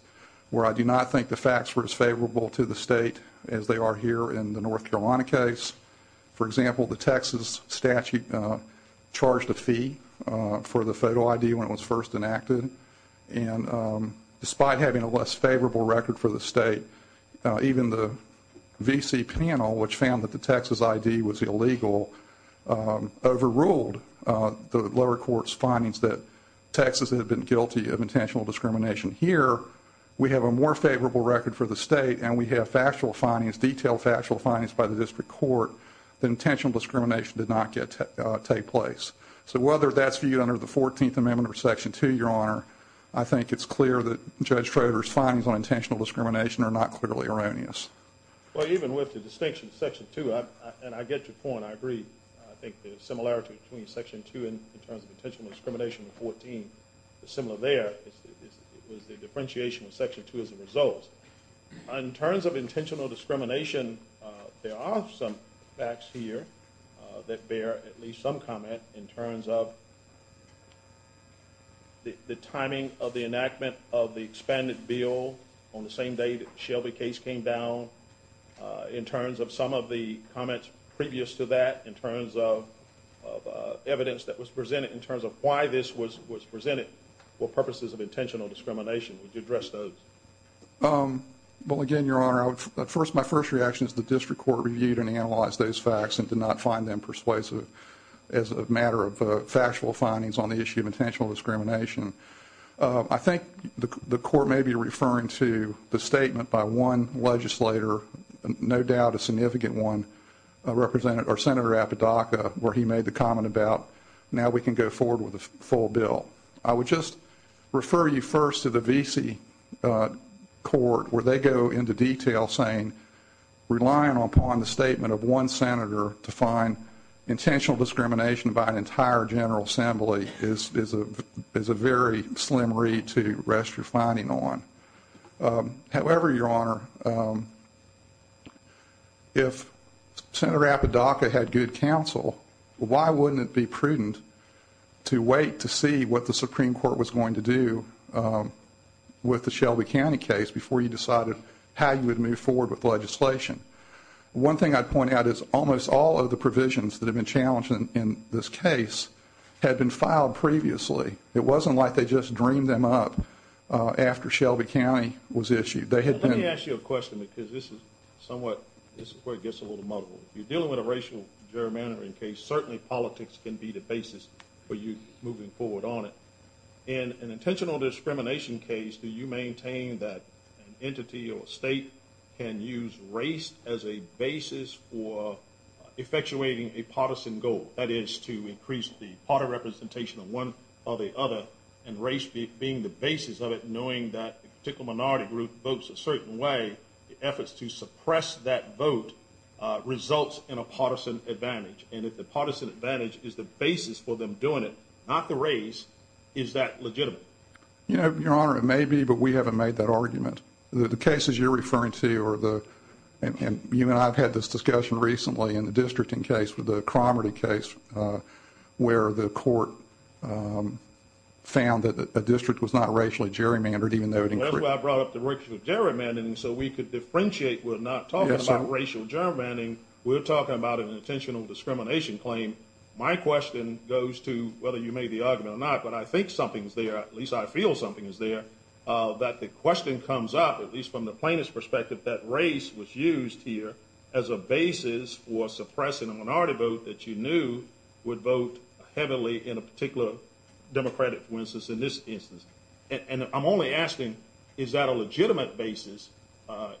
where I do not think the facts were as favorable to the state as they are here in the North Carolina case. For example, the Texas statute charged a fee for the photo ID when it was first enacted. Despite having a less favorable record for the state, even the V.C. panel, which found that the Texas ID was illegal, overruled the lower court's findings that Texas had been guilty of intentional discrimination. Here, we have a more favorable record for the state, and we have factual findings, detailed factual findings by the district court that intentional discrimination did not take place. So, whether that's viewed under the 14th Amendment or Section 2, Your Honor, I think it's clear that Judge Trover's findings on intentional discrimination are not clearly erroneous. Well, even with the distinction of Section 2, and I get your point, I agree. I think the similarity between Section 2 in terms of intentional discrimination and 14 is similar there. It was the differentiation of Section 2 as a result. In terms of intentional discrimination, there are some facts here that bear at least some comment in terms of the timing of the enactment of the expanded bill on the same day that the Shelby case came down. In terms of some of the comments previous to that, in terms of evidence that was presented, in terms of why this was presented for purposes of intentional discrimination, would you address those? Well, again, Your Honor, my first reaction is the district court reviewed and analyzed those facts and did not find them persuasive as a matter of factual findings on the issue of intentional discrimination. I think the court may be referring to the statement by one legislator, no doubt a significant one, Senator Apodaca, where he made the comment about now we can go forward with a full bill. I would just refer you first to the VC court where they go into detail saying relying upon the statement of one senator to find intentional discrimination by an entire General Assembly is a very slim read to rest your finding on. However, Your Honor, if Senator Apodaca had good counsel, why wouldn't it be prudent to wait to see what the Supreme Court was going to do with the Shelby County case before you decided how you would move forward with legislation? One thing I'd point out is almost all of the provisions that have been challenged in this case have been filed previously. It wasn't like they just dreamed them up after Shelby County was issued. Let me ask you a question because this is where it gets a little muddled. If you're dealing with a racial gerrymandering case, certainly politics can be the basis for you moving forward on it. In an intentional discrimination case, do you maintain that an entity or state can use race as a basis for effectuating a partisan goal? That is to increase the party representation of one or the other and race being the basis of it, knowing that a particular minority group votes a certain way, the efforts to suppress that vote results in a partisan advantage. If the partisan advantage is the basis for them doing it, not the race, is that legitimate? Your Honor, it may be, but we haven't made that argument. The cases you're referring to, and you and I have had this discussion recently in the districting case with the Cromerty case where the court found that the district was not racially gerrymandered. That's why I brought up the racial gerrymandering so we could differentiate. We're not talking about racial gerrymandering. We're talking about an intentional discrimination claim. My question goes to whether you made the argument or not, but I think something's there. At least I feel something's there, that the question comes up, at least from the plaintiff's perspective, that race was used here as a basis for suppressing a minority vote that you knew would vote heavily in a particular democratic instance, in this instance. I'm only asking, is that a legitimate basis on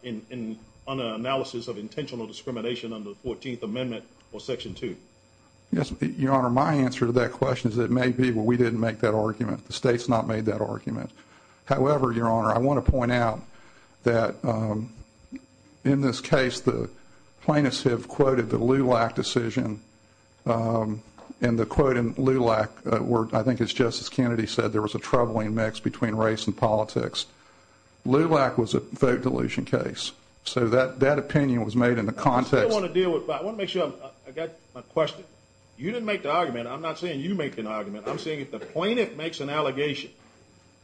an analysis of intentional discrimination under the 14th Amendment or Section 2? Yes, Your Honor. My answer to that question is it may be, but we didn't make that argument. However, Your Honor, I want to point out that in this case, the plaintiffs have quoted the Lulac decision, and the quote in Lulac where I think it's Justice Kennedy said there was a troubling mix between race and politics. Lulac was a vote deletion case, so that opinion was made in the context. I still want to deal with that. I want to make sure I got my question. You didn't make the argument. I'm not saying you made the argument. I'm saying if the plaintiff makes an allegation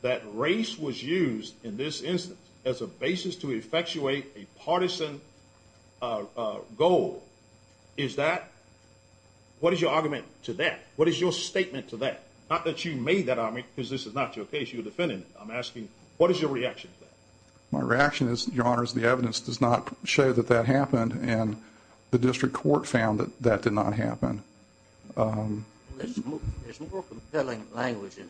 that race was used in this instance as a basis to effectuate a partisan goal, is that – what is your argument to that? What is your statement to that? Not that you made that argument because this is not your case. You're a defendant. I'm asking, what is your reaction to that? My reaction is, Your Honor, is the evidence does not show that that happened, and the district court found that that did not happen. There's a more compelling language in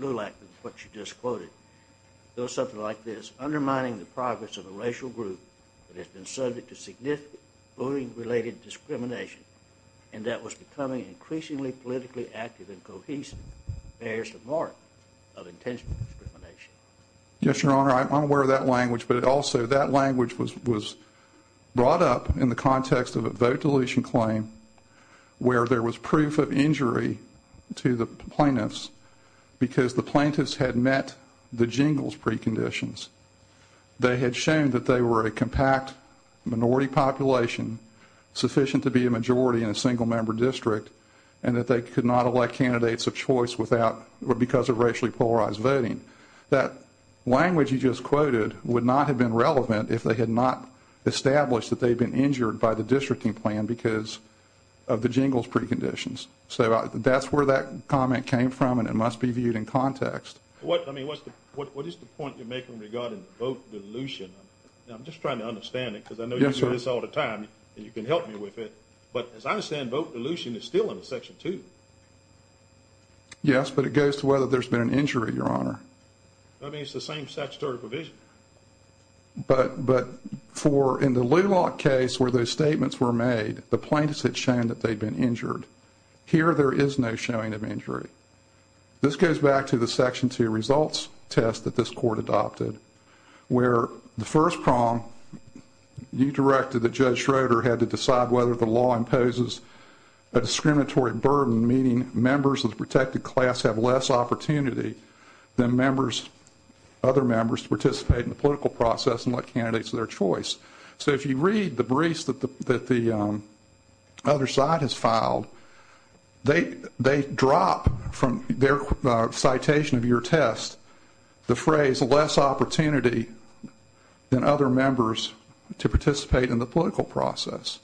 Lulac than what you just quoted. It was something like this, undermining the progress of a racial group that has been subject to significant voting-related discrimination, and that was becoming increasingly politically active and cohesive. There's a mark of intentional discrimination. Yes, Your Honor, I'm aware of that language, but also that language was brought up in the context of a vote deletion claim where there was proof of injury to the plaintiffs because the plaintiffs had met the Jingles preconditions. They had shown that they were a compact minority population sufficient to be a majority in a single-member district and that they could not elect candidates of choice without – because of racially polarized voting. That language you just quoted would not have been relevant if they had not established that they had been injured by the districting plan because of the Jingles preconditions. So, that's where that comment came from, and it must be viewed in context. What – I mean, what's the – what is the point you're making regarding vote deletion? I'm just trying to understand it because I know you do this all the time, and you can help me with it, but as I understand, vote deletion is still under Section 2. Yes, but it goes to whether there's been an injury, Your Honor. I mean, it's the same statutory provision. But for – in the Lulock case where those statements were made, the plaintiffs had shown that they'd been injured. Here, there is no showing of injury. This goes back to the Section 2 results test that this court adopted where the first prong you directed that Judge Schroeder had to decide whether the law imposes a discriminatory burden, meaning members of the protected class have less opportunity than members – other members to participate in the political process and elect candidates of their choice. So, if you read the briefs that the other side has filed, they drop from their citation of your test the phrase, less opportunity than other members to participate in the political process.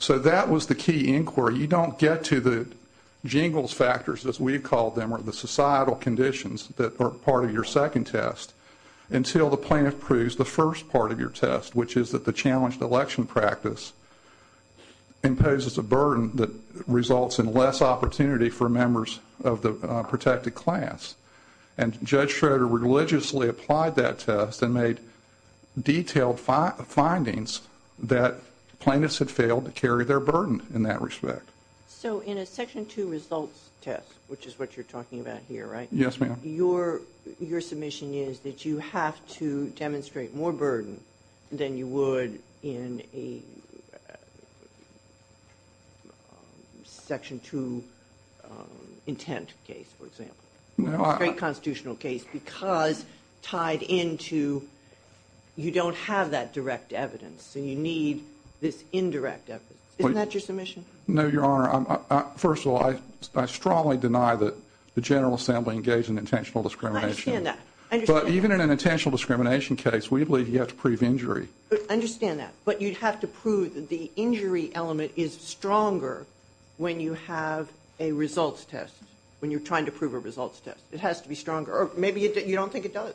So, that was the key inquiry. You don't get to the jingles factors, as we call them, or the societal conditions that are part of your second test until the plaintiff proves the first part of your test, which is that the challenged election practice imposes a burden that results in less opportunity for members of the protected class. And Judge Schroeder religiously applied that test and made detailed findings that plaintiffs had failed to carry their burden in that respect. So, in a Section 2 results test, which is what you're talking about here, right? Yes, ma'am. Your submission is that you have to demonstrate more burden than you would in a Section 2 intent case, for example. A great constitutional case because tied into – you don't have that direct evidence and you need this indirect evidence. Isn't that your submission? No, Your Honor. First of all, I strongly deny that the General Assembly engaged in intentional discrimination. I understand that. But even in an intentional discrimination case, we believe you have to prove injury. But you have to prove that the injury element is stronger when you have a results test, when you're trying to prove a results test. It has to be stronger. Or maybe you don't think it does.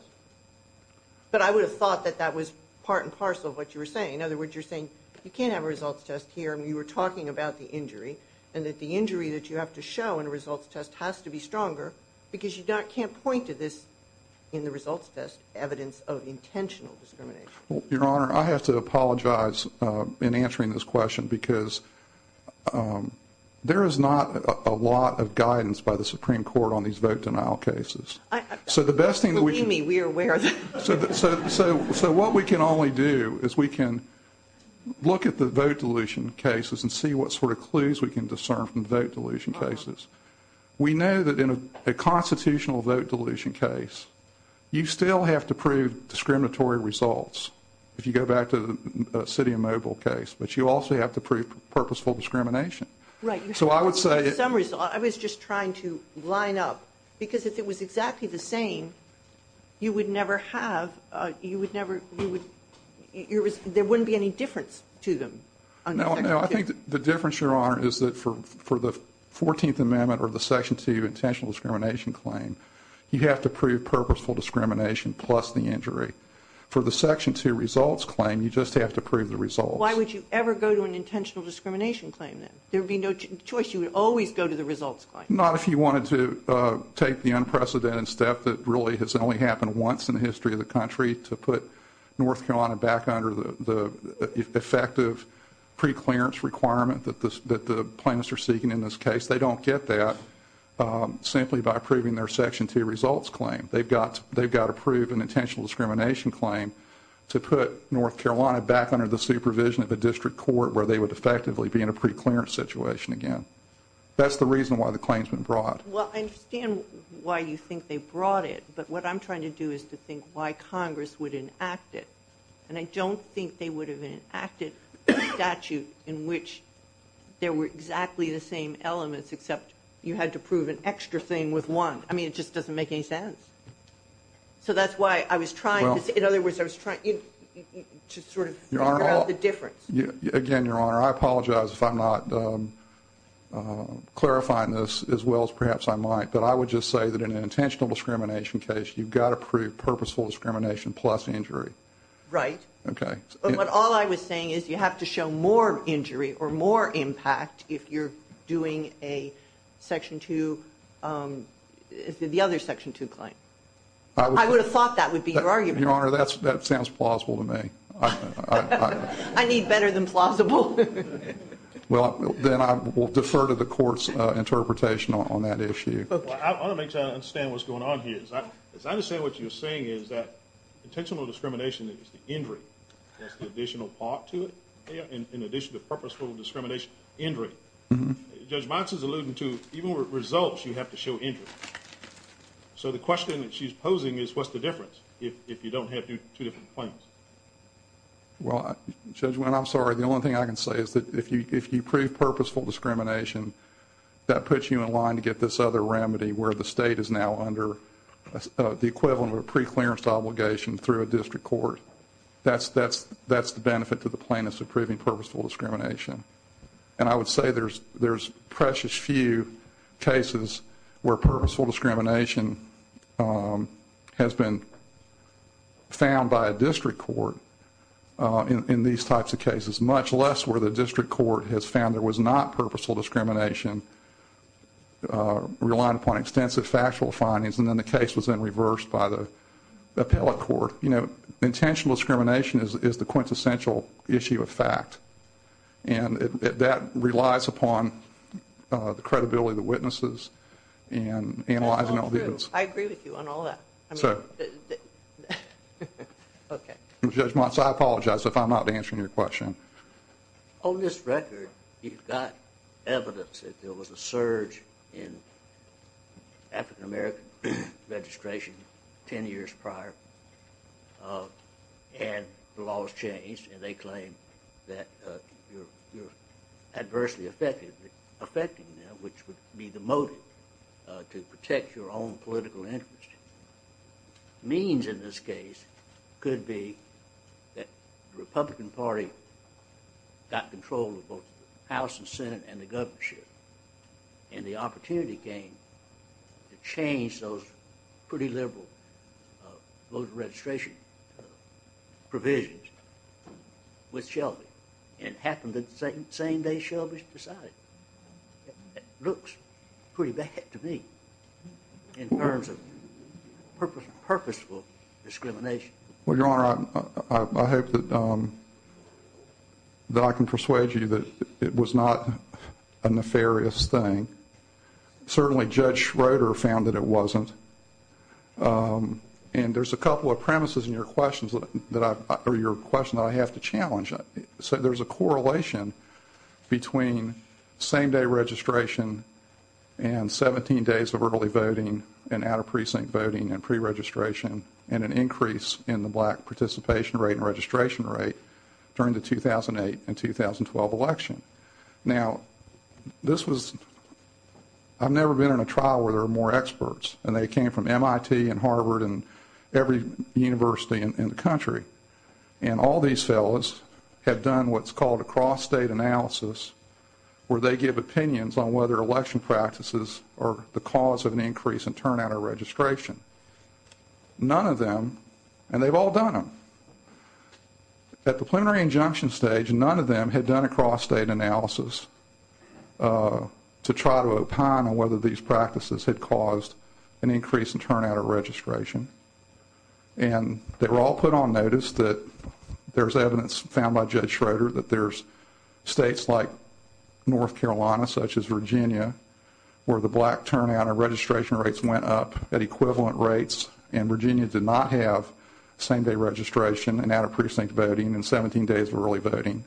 But I would have thought that that was part and parcel of what you were saying. In other words, you're saying you can't have a results test here, and you were talking about the injury, and that the injury that you have to show in a results test has to be stronger because you can't point to this in the results test evidence of intentional discrimination. Your Honor, I have to apologize in answering this question because there is not a lot of guidance by the Supreme Court on these vote denial cases. Believe me, we are aware of that. So what we can only do is we can look at the vote dilution cases and see what sort of clues we can discern from vote dilution cases. We know that in a constitutional vote dilution case, you still have to prove discriminatory results if you go back to the city of Mobile case, but you also have to prove purposeful discrimination. Right. So I would say... I was just trying to line up because if it was exactly the same, you would never have, you would never, there wouldn't be any difference to them. No, I think the difference, Your Honor, is that for the 14th Amendment or the Section 2 intentional discrimination claim, you have to prove purposeful discrimination plus the injury. For the Section 2 results claim, you just have to prove the results. Why would you ever go to an intentional discrimination claim then? There would be no choice. You would always go to the results claim. Not if you wanted to take the unprecedented step that really has only happened once in the history of the country to put North Carolina back under the effective preclearance requirement that the plaintiffs are seeking in this case. They don't get that simply by proving their Section 2 results claim. They've got to prove an intentional discrimination claim to put North Carolina back under the supervision of the district court where they would effectively be in a preclearance situation again. That's the reason why the claim's been brought. Well, I understand why you think they brought it, but what I'm trying to do is to think why Congress would enact it. And I don't think they would have enacted a statute in which there were exactly the same elements except you had to prove an extra thing with one. I mean, it just doesn't make any sense. So that's why I was trying to, in other words, I was trying to sort of figure out the difference. Again, Your Honor, I apologize if I'm not clarifying this as well as perhaps I might, but I would just say that in an intentional discrimination case, you've got to prove purposeful discrimination plus injury. Right. Okay. But all I was saying is you have to show more injury or more impact if you're doing a Section 2, the other Section 2 claim. I would have thought that would be your argument. Your Honor, that sounds plausible to me. I need better than plausible. Well, then I will defer to the Court's interpretation on that issue. I want to make sure I understand what's going on here. Because I understand what you're saying is that intentional discrimination is the injury. That's the additional part to it. In addition to purposeful discrimination, injury. Judge Monson's alluding to even with results, you have to show injury. So the question that she's posing is what's the difference if you don't have two different claims? Well, Judge Wynne, I'm sorry. The only thing I can say is that if you prove purposeful discrimination, that puts you in line to get this other remedy where the state is now under the equivalent of a preclearance obligation through a district court. That's the benefit to the plaintiffs of proving purposeful discrimination. And I would say there's precious few cases where purposeful discrimination has been found by a district court in these types of cases, much less where the district court has found there was not purposeful discrimination relying upon extensive factual findings, and then the case was then reversed by the appellate court. Intentional discrimination is the quintessential issue of fact. And that relies upon the credibility of the witnesses and analyzing all this. I agree with you on all that. Judge Monson, I apologize if I'm not answering your question. On this record, you've got evidence that there was a surge in African American registration 10 years prior. And the laws changed, and they claim that you're adversely affecting them, which would be the motive to protect your own political interest. Means in this case could be that the Republican Party got control of both the House and Senate and the governorship, and the opportunity came to change those pretty liberal voter registration provisions with Shelby. It happened the same day Shelby was decided. It looks pretty bad to me in terms of purposeful discrimination. Well, Your Honor, I hope that I can persuade you that it was not a nefarious thing. Certainly, Judge Schroeder found that it wasn't. And there's a couple of premises in your question that I have to challenge. So there's a correlation between same-day registration and 17 days of early voting and out-of-precinct voting and pre-registration and an increase in the black participation rate and registration rate during the 2008 and 2012 election. Now, this was – I've never been in a trial where there are more experts, and they came from MIT and Harvard and every university in the country. And all these fellows had done what's called a cross-state analysis, where they give opinions on whether election practices are the cause of an increase in turnout or registration. None of them – and they've all done them. At the plenary injunction stage, none of them had done a cross-state analysis to try to opine on whether these practices had caused an increase in turnout or registration. And they were all put on notice that there's evidence found by Judge Schroeder that there's states like North Carolina, such as Virginia, where the black turnout and registration rates went up at equivalent rates, and Virginia did not have same-day registration and out-of-precinct voting and 17 days of early voting.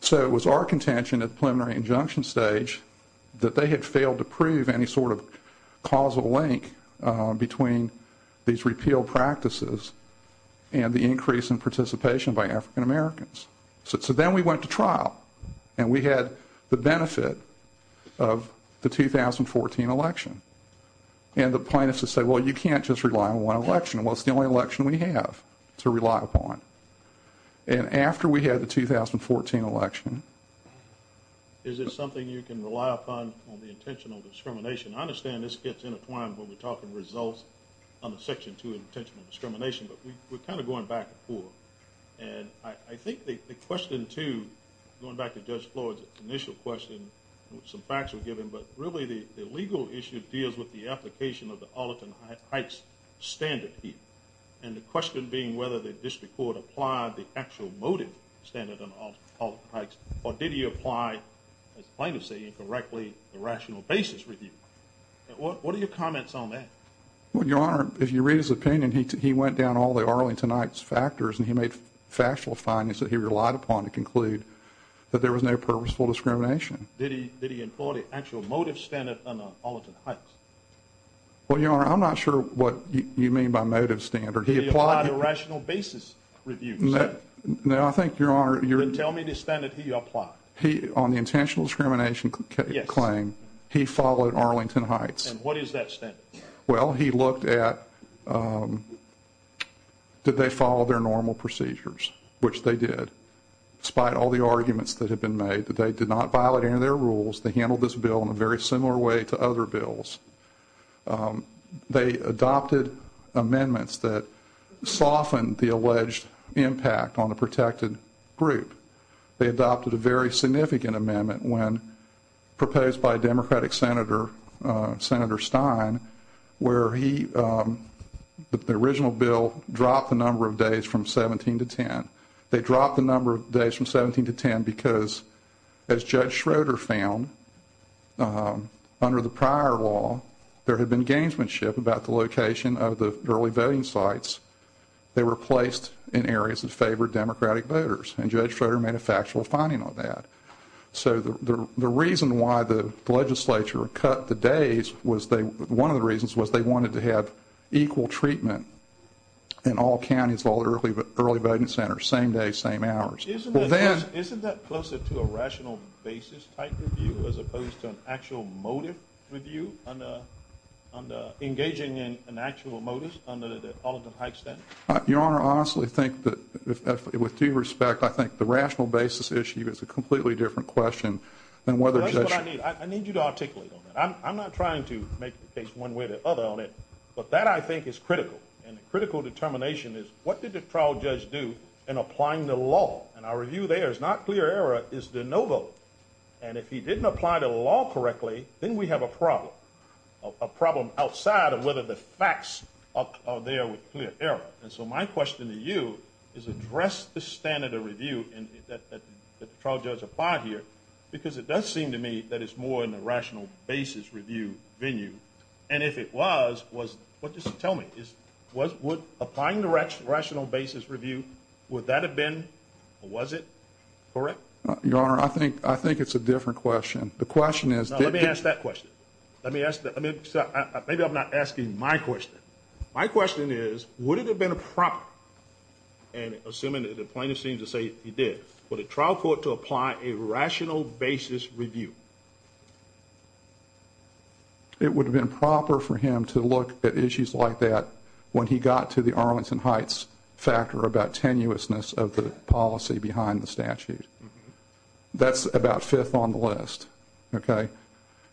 So it was our contention at the preliminary injunction stage that they had failed to prove any sort of causal link between these repeal practices and the increase in participation by African Americans. So then we went to trial, and we had the benefit of the 2014 election. And the plaintiffs had said, well, you can't just rely on one election. Well, it's the only election we have to rely upon. And after we had the 2014 election – Is it something you can rely upon on the intentional discrimination? I understand this gets intertwined when we're talking results on the Section 2 Intentional Discrimination, but we're kind of going back and forth. And I think the question, too, going back to Judge Floyd's initial question, some facts were given, but really the legal issue deals with the application of the Arlington Heights standard. And the question being whether the district court applied the actual motive standard on Arlington Heights, or did he apply, the plaintiffs say incorrectly, a rational basis review. What are your comments on that? Well, Your Honor, if you read his opinion, he went down all the Arlington Heights factors, and he made factual findings that he relied upon to conclude that there was no purposeful discrimination. Did he employ the actual motive standard on Arlington Heights? Well, Your Honor, I'm not sure what you mean by motive standard. Did he apply the rational basis review? No, I think, Your Honor – Then tell me the standard he applied. On the intentional discrimination claim, he followed Arlington Heights. And what is that standard? Well, he looked at did they follow their normal procedures, which they did, despite all the arguments that had been made that they did not violate any of their rules. They handled this bill in a very similar way to other bills. They adopted amendments that softened the alleged impact on the protected group. They adopted a very significant amendment when proposed by a Democratic senator, Senator Stein, where he – the original bill dropped the number of days from 17 to 10. They dropped the number of days from 17 to 10 because, as Judge Schroeder found, under the prior law, there had been gamesmanship about the location of the early voting sites. They were placed in areas that favored Democratic voters, and Judge Schroeder made a factual finding on that. So the reason why the legislature cut the days was they – Isn't that closer to a rational basis type review as opposed to an actual motive review on engaging in an actual motive under the Arlington Heights Act? Your Honor, I honestly think that, with due respect, I think the rational basis issue is a completely different question than whether – That's what I mean. I need you to articulate that. I'm not trying to make the case one way or the other on it, but that, I think, is critical. And the critical determination is what did the trial judge do in applying the law? And our review there is not clear error. It's the no vote. And if he didn't apply the law correctly, then we have a problem, a problem outside of whether the facts are there with clear error. And so my question to you is address the standard of review that the trial judge applied here because it does seem to me that it's more in the rational basis review venue. And if it was, what does it tell me? Applying the rational basis review, would that have been, or was it, correct? Your Honor, I think it's a different question. The question is – No, let me ask that question. Maybe I'm not asking my question. My question is, would it have been appropriate, and assuming that the plaintiffs seem to say it did, for the trial court to apply a rational basis review? It would have been proper for him to look at issues like that when he got to the Arlington Heights factor about tenuousness of the policy behind the statute. That's about fifth on the list, okay?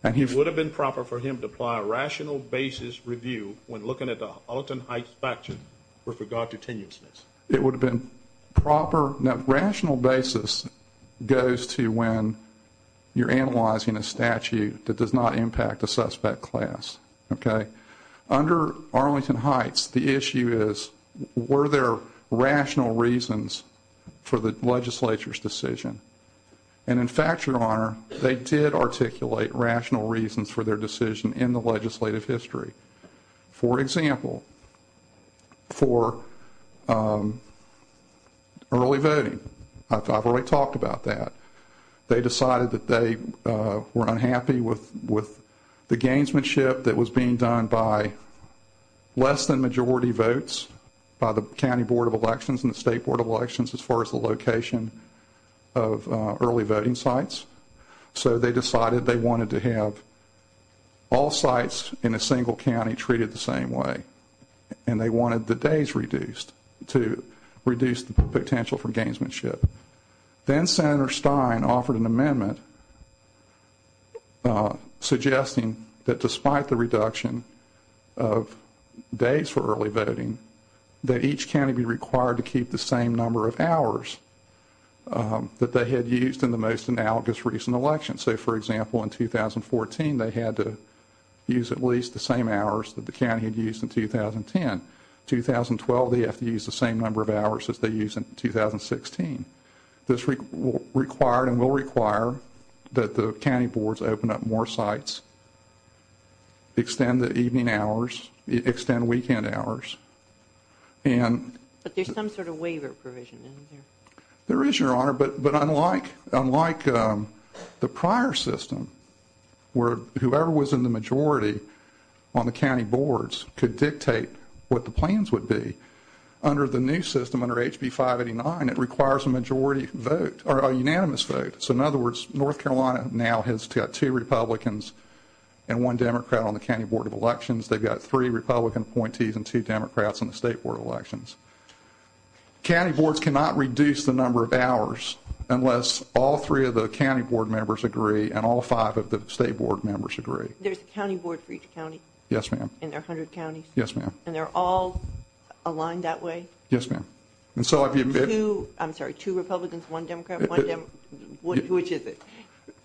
It would have been proper for him to apply a rational basis review when looking at the Alton Heights factor with regard to tenuousness? It would have been proper. Now, rational basis goes to when you're analyzing a statute that does not impact a suspect class, okay? Under Arlington Heights, the issue is, were there rational reasons for the legislature's decision? And in Factor, Your Honor, they did articulate rational reasons for their decision in the legislative history. For example, for early voting. I've already talked about that. They decided that they were unhappy with the gainsmanship that was being done by less than majority votes by the County Board of Elections and the State Board of Elections as far as the location of early voting sites. So they decided they wanted to have all sites in a single county treated the same way. And they wanted the days reduced to reduce the potential for gainsmanship. Then Senator Stein offered an amendment suggesting that despite the reduction of days for early voting, that each county be required to keep the same number of hours that they had used in the most analogous recent election. So, for example, in 2014, they had to use at least the same hours that the county had used in 2010. 2012, they have to use the same number of hours that they used in 2016. This required and will require that the county boards open up more sites, extend the evening hours, extend weekend hours, and... But there's some sort of waiver provision in there. There is, Your Honor, but unlike the prior system, where whoever was in the majority on the county boards could dictate what the plans would be, under the new system, under HB 589, it requires a majority vote or a unanimous vote. So, in other words, North Carolina now has got two Republicans and one Democrat on the County Board of Elections. They've got three Republican appointees and two Democrats on the State Board of Elections. County boards cannot reduce the number of hours unless all three of the county board members agree and all five of the state board members agree. There's a county board for each county? Yes, ma'am. And there are 100 counties? Yes, ma'am. And they're all aligned that way? Yes, ma'am. And so... I'm sorry, two Republicans, one Democrat? Which is it?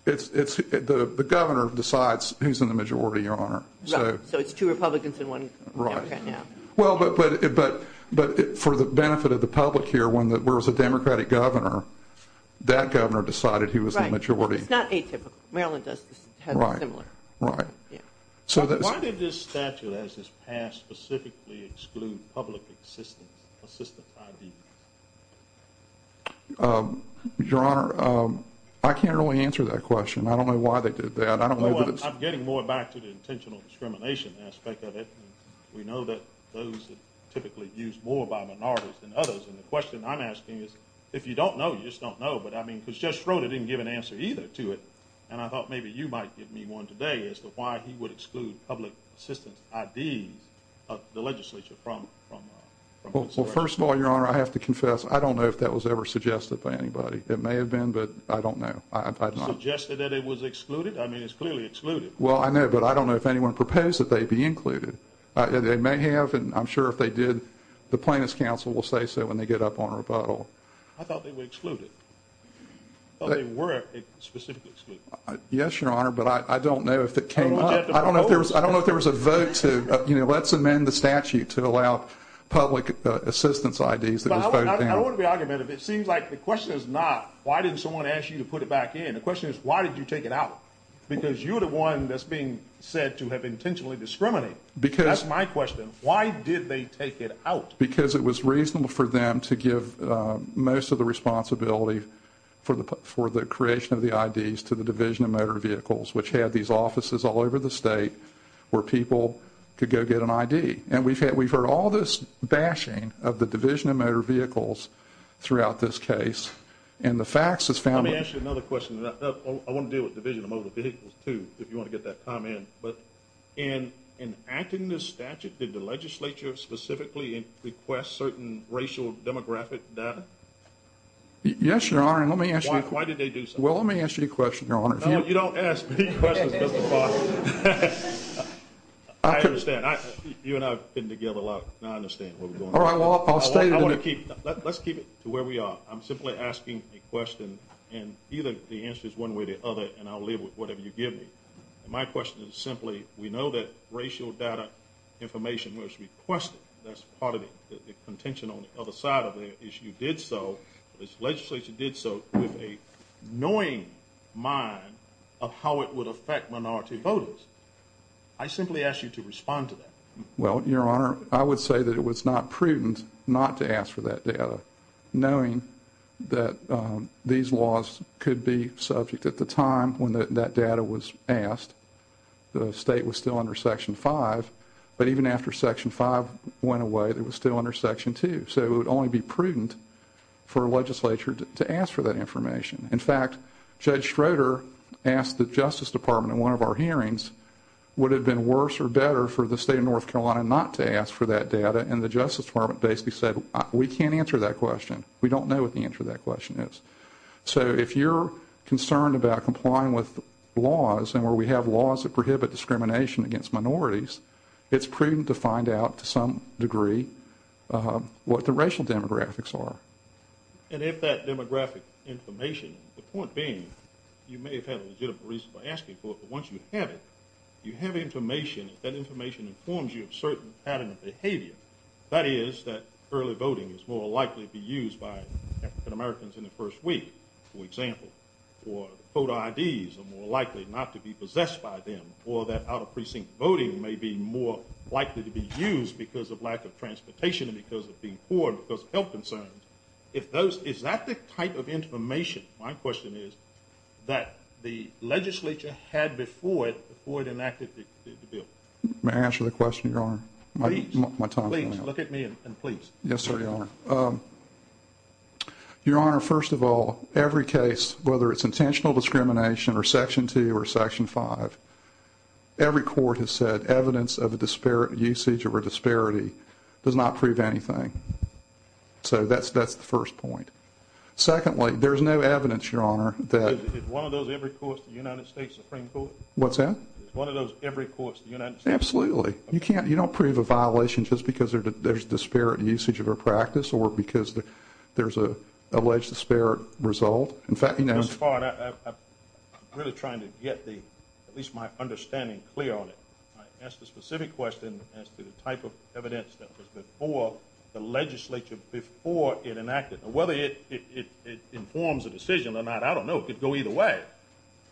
The governor decides who's in the majority, Your Honor. So it's two Republicans and one Democrat, yeah. Right. Well, but for the benefit of the public here, when there was a Democratic governor, that governor decided who was in the majority. Right. It's not atypical. Maryland does this kind of similar. Right, right. Yeah. Why did this statute, as it's passed, specifically exclude public assistance, assistant ID? Your Honor, I can't really answer that question. I don't know why they did that. I don't know... I'm getting more back to the intentional discrimination aspect of it. We know that those are typically used more by minorities than others. And the question I'm asking is, if you don't know, you just don't know. But, I mean, because Jeff Schroeder didn't give an answer either to it. And I thought maybe you might give me one today as to why he would exclude public assistance ID of the legislature from... Well, first of all, Your Honor, I have to confess, I don't know if that was ever suggested by anybody. It may have been, but I don't know. Suggested that it was excluded? I mean, it's clearly excluded. Well, I know, but I don't know if anyone proposed that they be included. They may have, and I'm sure if they did, the Plaintiffs' Council will say so when they get up on rebuttal. I thought they were excluded. I thought they were specifically excluded. Yes, Your Honor, but I don't know if it came up. I don't know if there was a vote to, you know, let's amend the statute to allow public assistance ID. I don't want to be argumentative. It seems like the question is not, why didn't someone ask you to put it back in? The question is, why did you take it out? Because you're the one that's being said to have intentionally discriminated. That's my question. Why did they take it out? Because it was reasonable for them to give most of the responsibility for the creation of the IDs to the Division of Motor Vehicles, which had these offices all over the state where people could go get an ID. And we've heard all this bashing of the Division of Motor Vehicles throughout this case. Let me ask you another question. I want to deal with the Division of Motor Vehicles, too, if you want to get that comment. But in enacting this statute, did the legislature specifically request certain racial demographic data? Yes, Your Honor, and let me ask you a question. Why did they do so? Well, let me ask you a question, Your Honor. No, you don't ask me questions, Justice Barber. I understand. You and I have been together a lot, and I understand where we're going. All right, well, I'll stay. Let's keep it to where we are. I'm simply asking a question, and either the answer is one way or the other, and I'll leave with whatever you give me. My question is simply, we know that racial data information was requested. That's part of it. The contention on the other side of it is you did so, this legislature did so, with a knowing mind of how it would affect minority voters. I simply ask you to respond to that. Well, Your Honor, I would say that it was not prudent not to ask for that data, knowing that these laws could be subject at the time when that data was asked. The state was still under Section 5, but even after Section 5 went away, it was still under Section 2. So it would only be prudent for a legislature to ask for that information. In fact, Judge Schroeder asked the Justice Department at one of our hearings, would it have been worse or better for the state of North Carolina not to ask for that data, and the Justice Department basically said, we can't answer that question. We don't know what the answer to that question is. So if you're concerned about complying with laws, and where we have laws that prohibit discrimination against minorities, it's prudent to find out to some degree what the racial demographics are. And if that demographic information, the point being, you may have had a legitimate reason for asking for it, but once you have it, you have information, and that information informs you of certain patterns of behavior. That is, that early voting is more likely to be used by Americans in the first week, for example, or voter IDs are more likely not to be possessed by them, or that out-of-precinct voting may be more likely to be used because of lack of transportation and because of being poor and because of health concerns. Is that the type of information, my question is, that the legislature had before it enacted the bill? May I answer the question, Your Honor? Please, look at me and please. Yes, sir, Your Honor. Your Honor, first of all, every case, whether it's intentional discrimination or Section 2 or Section 5, every court has said evidence of a usage or a disparity does not prove anything. So that's the first point. Secondly, there's no evidence, Your Honor, that… Is one of those every courts in the United States Supreme Court? What's that? Is one of those every courts in the United States Supreme Court? Absolutely. You can't, you don't prove a violation just because there's disparate usage of a practice or because there's an alleged disparate result. In fact, you know… I'm really trying to get at least my understanding clear on it. I asked a specific question as to the type of evidence that was before the legislature, before it enacted, whether it informs a decision or not. I don't know. It could go either way.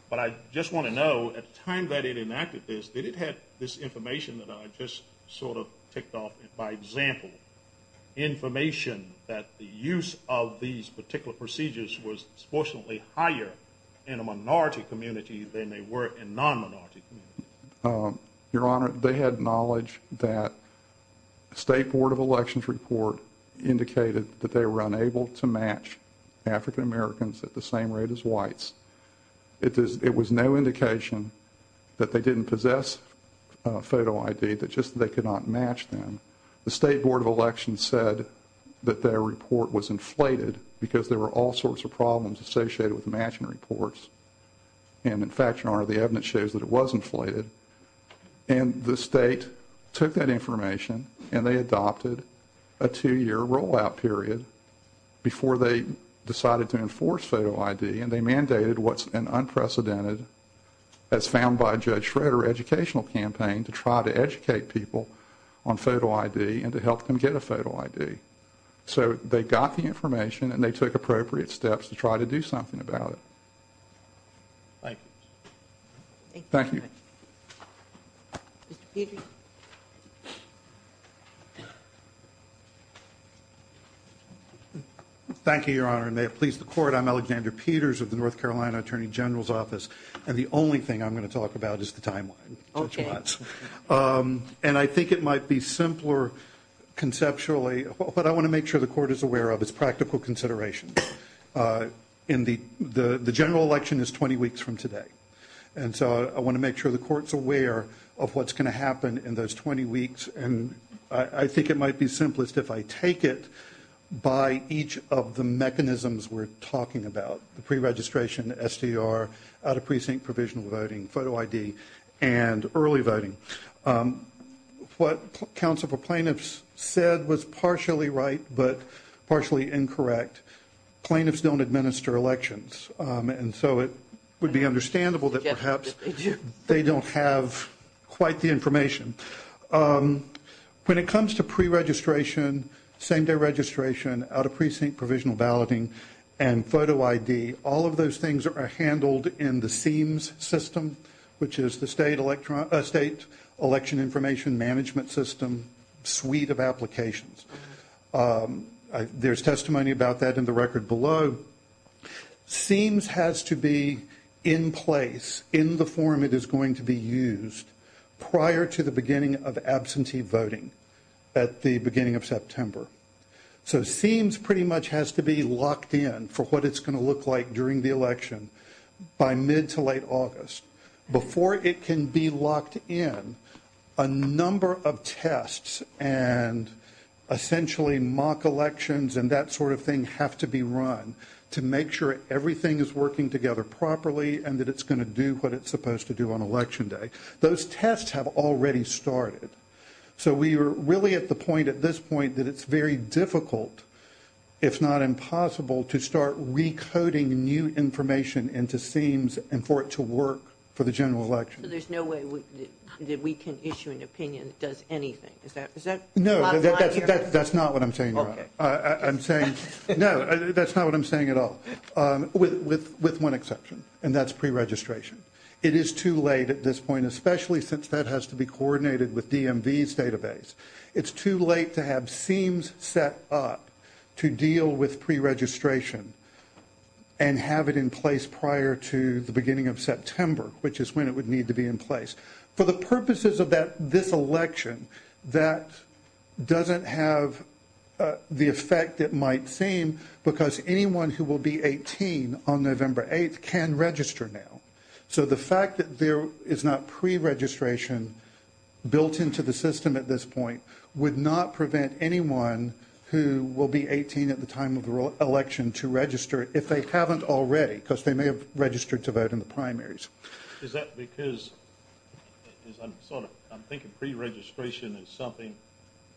But I just want to know, at the time that it enacted this, did it have this information that I just sort of picked off by example, information that the use of these particular procedures was disproportionately higher in a minority community than they were in non-minority communities? Your Honor, they had knowledge that State Board of Elections report indicated that they were unable to match African Americans at the same rate as whites. It was no indication that they didn't possess photo ID, but just that they could not match them. The State Board of Elections said that their report was inflated because there were all sorts of problems associated with matching reports. And, in fact, Your Honor, the evidence shows that it was inflated. And the state took that information and they adopted a two-year rollout period before they decided to enforce photo ID, and they mandated what's an unprecedented, as found by Judge Schroeder, educational campaign to try to educate people on photo ID and to help them get a photo ID. So they got the information and they took appropriate steps to try to do something about it. Thank you. Thank you. Thank you, Your Honor, and may it please the Court, I'm Alexander Peters of the North Carolina Attorney General's Office, and the only thing I'm going to talk about is the timeline. Okay. And I think it might be simpler conceptually, but I want to make sure the Court is aware of its practical considerations. The general election is 20 weeks from today, and so I want to make sure the Court's aware of what's going to happen in those 20 weeks. And I think it might be simplest if I take it by each of the mechanisms we're talking about, the pre-registration, SDR, out-of-precinct provisional voting, photo ID, and early voting. What counsel for plaintiffs said was partially right but partially incorrect. Plaintiffs don't administer elections, and so it would be understandable that perhaps they don't have quite the information. When it comes to pre-registration, same-day registration, out-of-precinct provisional balloting, and photo ID, all of those things are handled in the SEEMS system, which is the State Election Information Management System suite of applications. There's testimony about that in the record below. SEEMS has to be in place in the form it is going to be used prior to the beginning of absentee voting at the beginning of September. So SEEMS pretty much has to be locked in for what it's going to look like during the election by mid to late August. Before it can be locked in, a number of tests and essentially mock elections and that sort of thing have to be run to make sure everything is working together properly and that it's going to do what it's supposed to do on election day. Those tests have already started. So we are really at the point at this point that it's very difficult, if not impossible, to start recoding new information into SEEMS and for it to work for the general election. There's no way that we can issue an opinion that does anything, is that right? No, that's not what I'm saying. Okay. I'm saying, no, that's not what I'm saying at all, with one exception, and that's pre-registration. It is too late at this point, and especially since that has to be coordinated with DMV's database, it's too late to have SEEMS set up to deal with pre-registration and have it in place prior to the beginning of September, which is when it would need to be in place. For the purposes of this election, that doesn't have the effect it might seem because anyone who will be 18 on November 8th can register now. So the fact that there is not pre-registration built into the system at this point would not prevent anyone who will be 18 at the time of election to register, if they haven't already, because they may have registered to vote in the primaries. Is that because I'm thinking pre-registration is something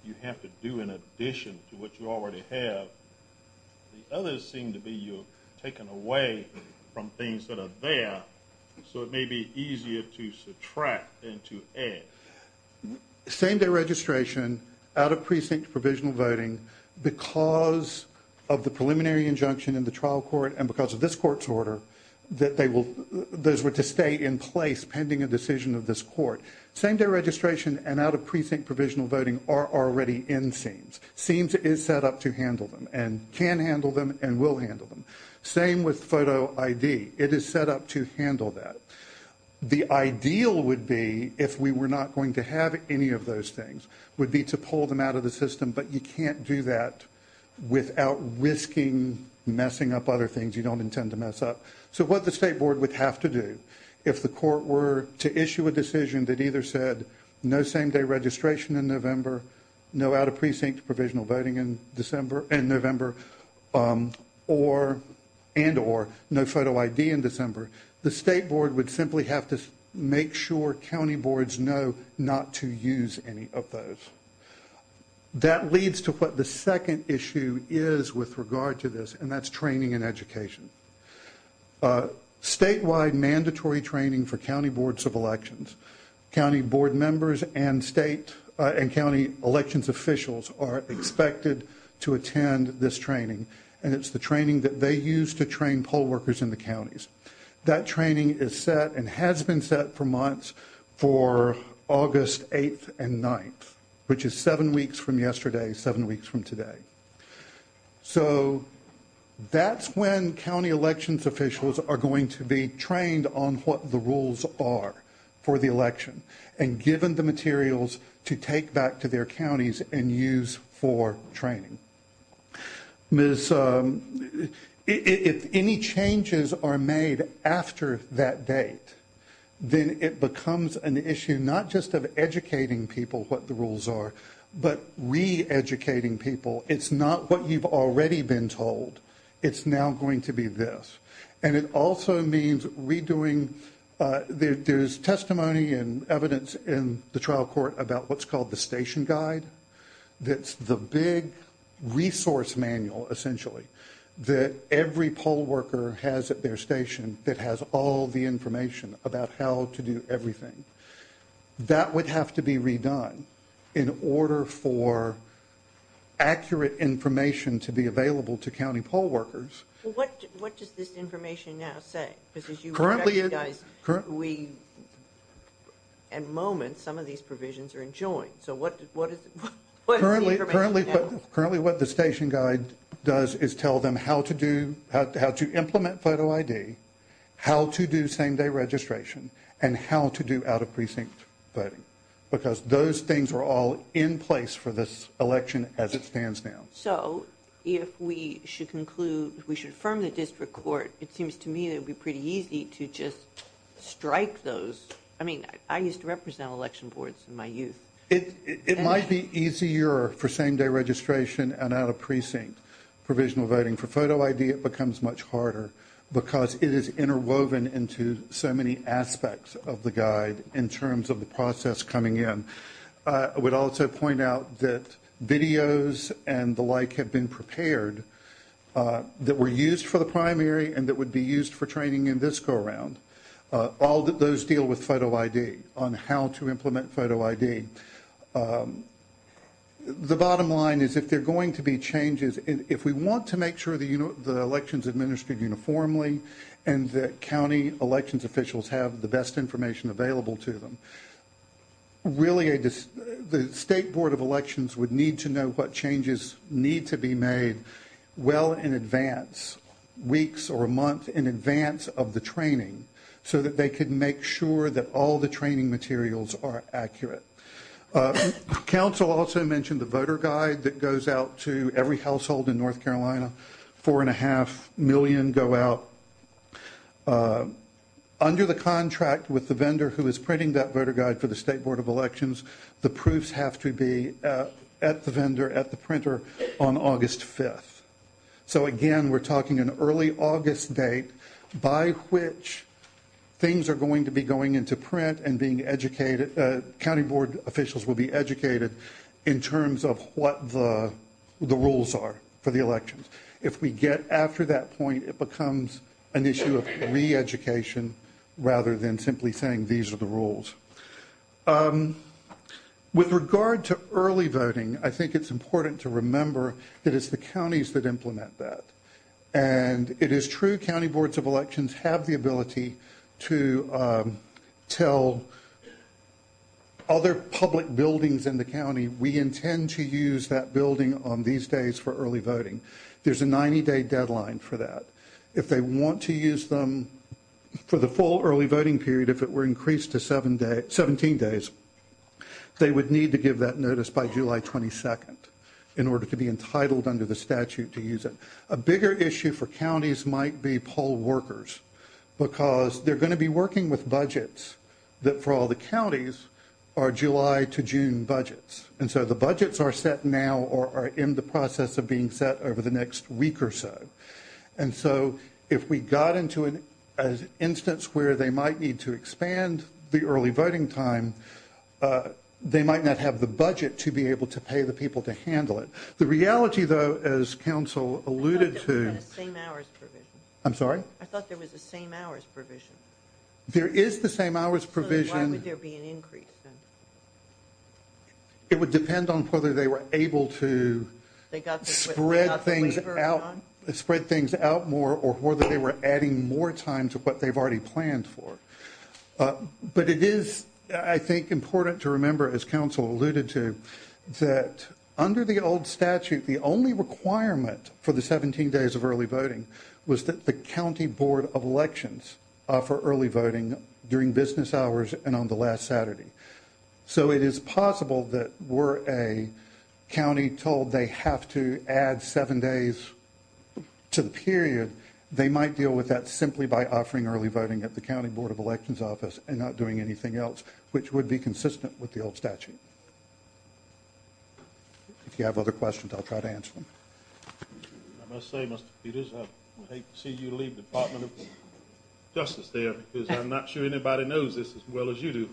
you have to do in addition to what you already have. The others seem to be you're taking away from things that are there, so it may be easier to subtract than to add. Same-day registration, out-of-precinct provisional voting, because of the preliminary injunction in the trial court and because of this court's order, that those were to stay in place pending a decision of this court. Same-day registration and out-of-precinct provisional voting are already in SEEMS. SEEMS is set up to handle them and can handle them and will handle them. Same with photo ID. It is set up to handle that. The ideal would be, if we were not going to have any of those things, would be to pull them out of the system, but you can't do that without risking messing up other things you don't intend to mess up. So what the State Board would have to do if the court were to issue a decision that either said no same-day registration in November, no out-of-precinct provisional voting in November, and or no photo ID in December, the State Board would simply have to make sure county boards know not to use any of those. That leads to what the second issue is with regard to this, and that's training and education. Statewide mandatory training for county boards of elections. County board members and state and county elections officials are expected to attend this training, and it's the training that they use to train poll workers in the counties. That training is set and has been set for months for August 8th and 9th, which is seven weeks from yesterday, seven weeks from today. So that's when county elections officials are going to be trained on what the rules are for the election and given the materials to take back to their counties and use for training. If any changes are made after that date, then it becomes an issue not just of educating people what the rules are, but re-educating people it's not what you've already been told. It's now going to be this. And it also means redoing the testimony and evidence in the trial court about what's called the station guide. That's the big resource manual, essentially, that every poll worker has at their station that has all the information about how to do everything. That would have to be redone in order for accurate information to be available to county poll workers. What does this information now say? At the moment, some of these provisions are in joint, so what is the information now? Currently, what the station guide does is tell them how to implement photo ID, how to do same-day registration, and how to do out-of-precinct voting because those things are all in place for this election as it stands now. So if we should conclude, we should affirm the district court, it seems to me it would be pretty easy to just strike those. I mean, I used to represent election boards in my youth. It might be easier for same-day registration and out-of-precinct provisional voting. For photo ID, it becomes much harder because it is interwoven into so many aspects of the guide in terms of the process coming in. I would also point out that videos and the like have been prepared that were used for the primary and that would be used for training in this go-around. All those deal with photo ID on how to implement photo ID. The bottom line is if there are going to be changes, if we want to make sure the election is administered uniformly and that county elections officials have the best information available to them, really the state board of elections would need to know what changes need to be made well in advance, weeks or a month in advance of the training, so that they could make sure that all the training materials are accurate. Council also mentioned the voter guide that goes out to every household in North Carolina. Four and a half million go out. Under the contract with the vendor who is printing that voter guide for the state board of elections, the proofs have to be at the vendor, at the printer on August 5th. So again, we're talking an early August date by which things are going to be going into print and being educated, county board officials will be educated in terms of what the rules are for the elections. If we get after that point, it becomes an issue of re-education rather than simply saying these are the rules. With regard to early voting, I think it's important to remember that it's the counties that implement that. And it is true county boards of elections have the ability to tell other public buildings in the county, we intend to use that building on these days for early voting. There's a 90-day deadline for that. If they want to use them for the full early voting period, if it were increased to 17 days, they would need to give that notice by July 22nd in order to be entitled under the statute to use it. A bigger issue for counties might be poll workers because they're going to be working with budgets that for all the counties are July to June budgets. And so the budgets are set now or are in the process of being set over the next week or so. And so if we got into an instance where they might need to expand the early voting time, they might not have the budget to be able to pay the people to handle it. The reality, though, as Council alluded to... I thought there was a same-hours provision. I'm sorry? I thought there was a same-hours provision. There is the same-hours provision. Why would there be an increase then? It would depend on whether they were able to spread things out more or whether they were adding more time to what they've already planned for. But it is, I think, important to remember, as Council alluded to, that under the old statute, the only requirement for the 17 days of early voting was that the County Board of Elections offer early voting during business hours and on the last Saturday. So it is possible that were a county told they have to add seven days to the period, they might deal with that simply by offering early voting at the County Board of Elections office and not doing anything else, which would be consistent with the old statute. If you have other questions, I'll try to answer them. I must say, Mr. Peters, I'd hate to see you leave the Department of Justice there because I'm not sure anybody knows this as well as you do.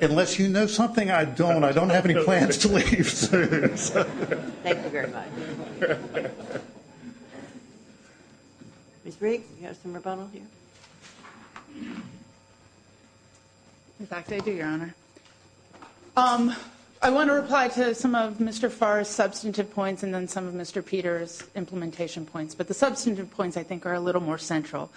Unless you know something, I don't. I don't have any plans to leave. Thank you very much. Ms. Grigg, you have some more problems? In fact, I do, Your Honor. I want to reply to some of Mr. Farr's substantive points and then some of Mr. Peters' implementation points. But the substantive points, I think, are a little more central.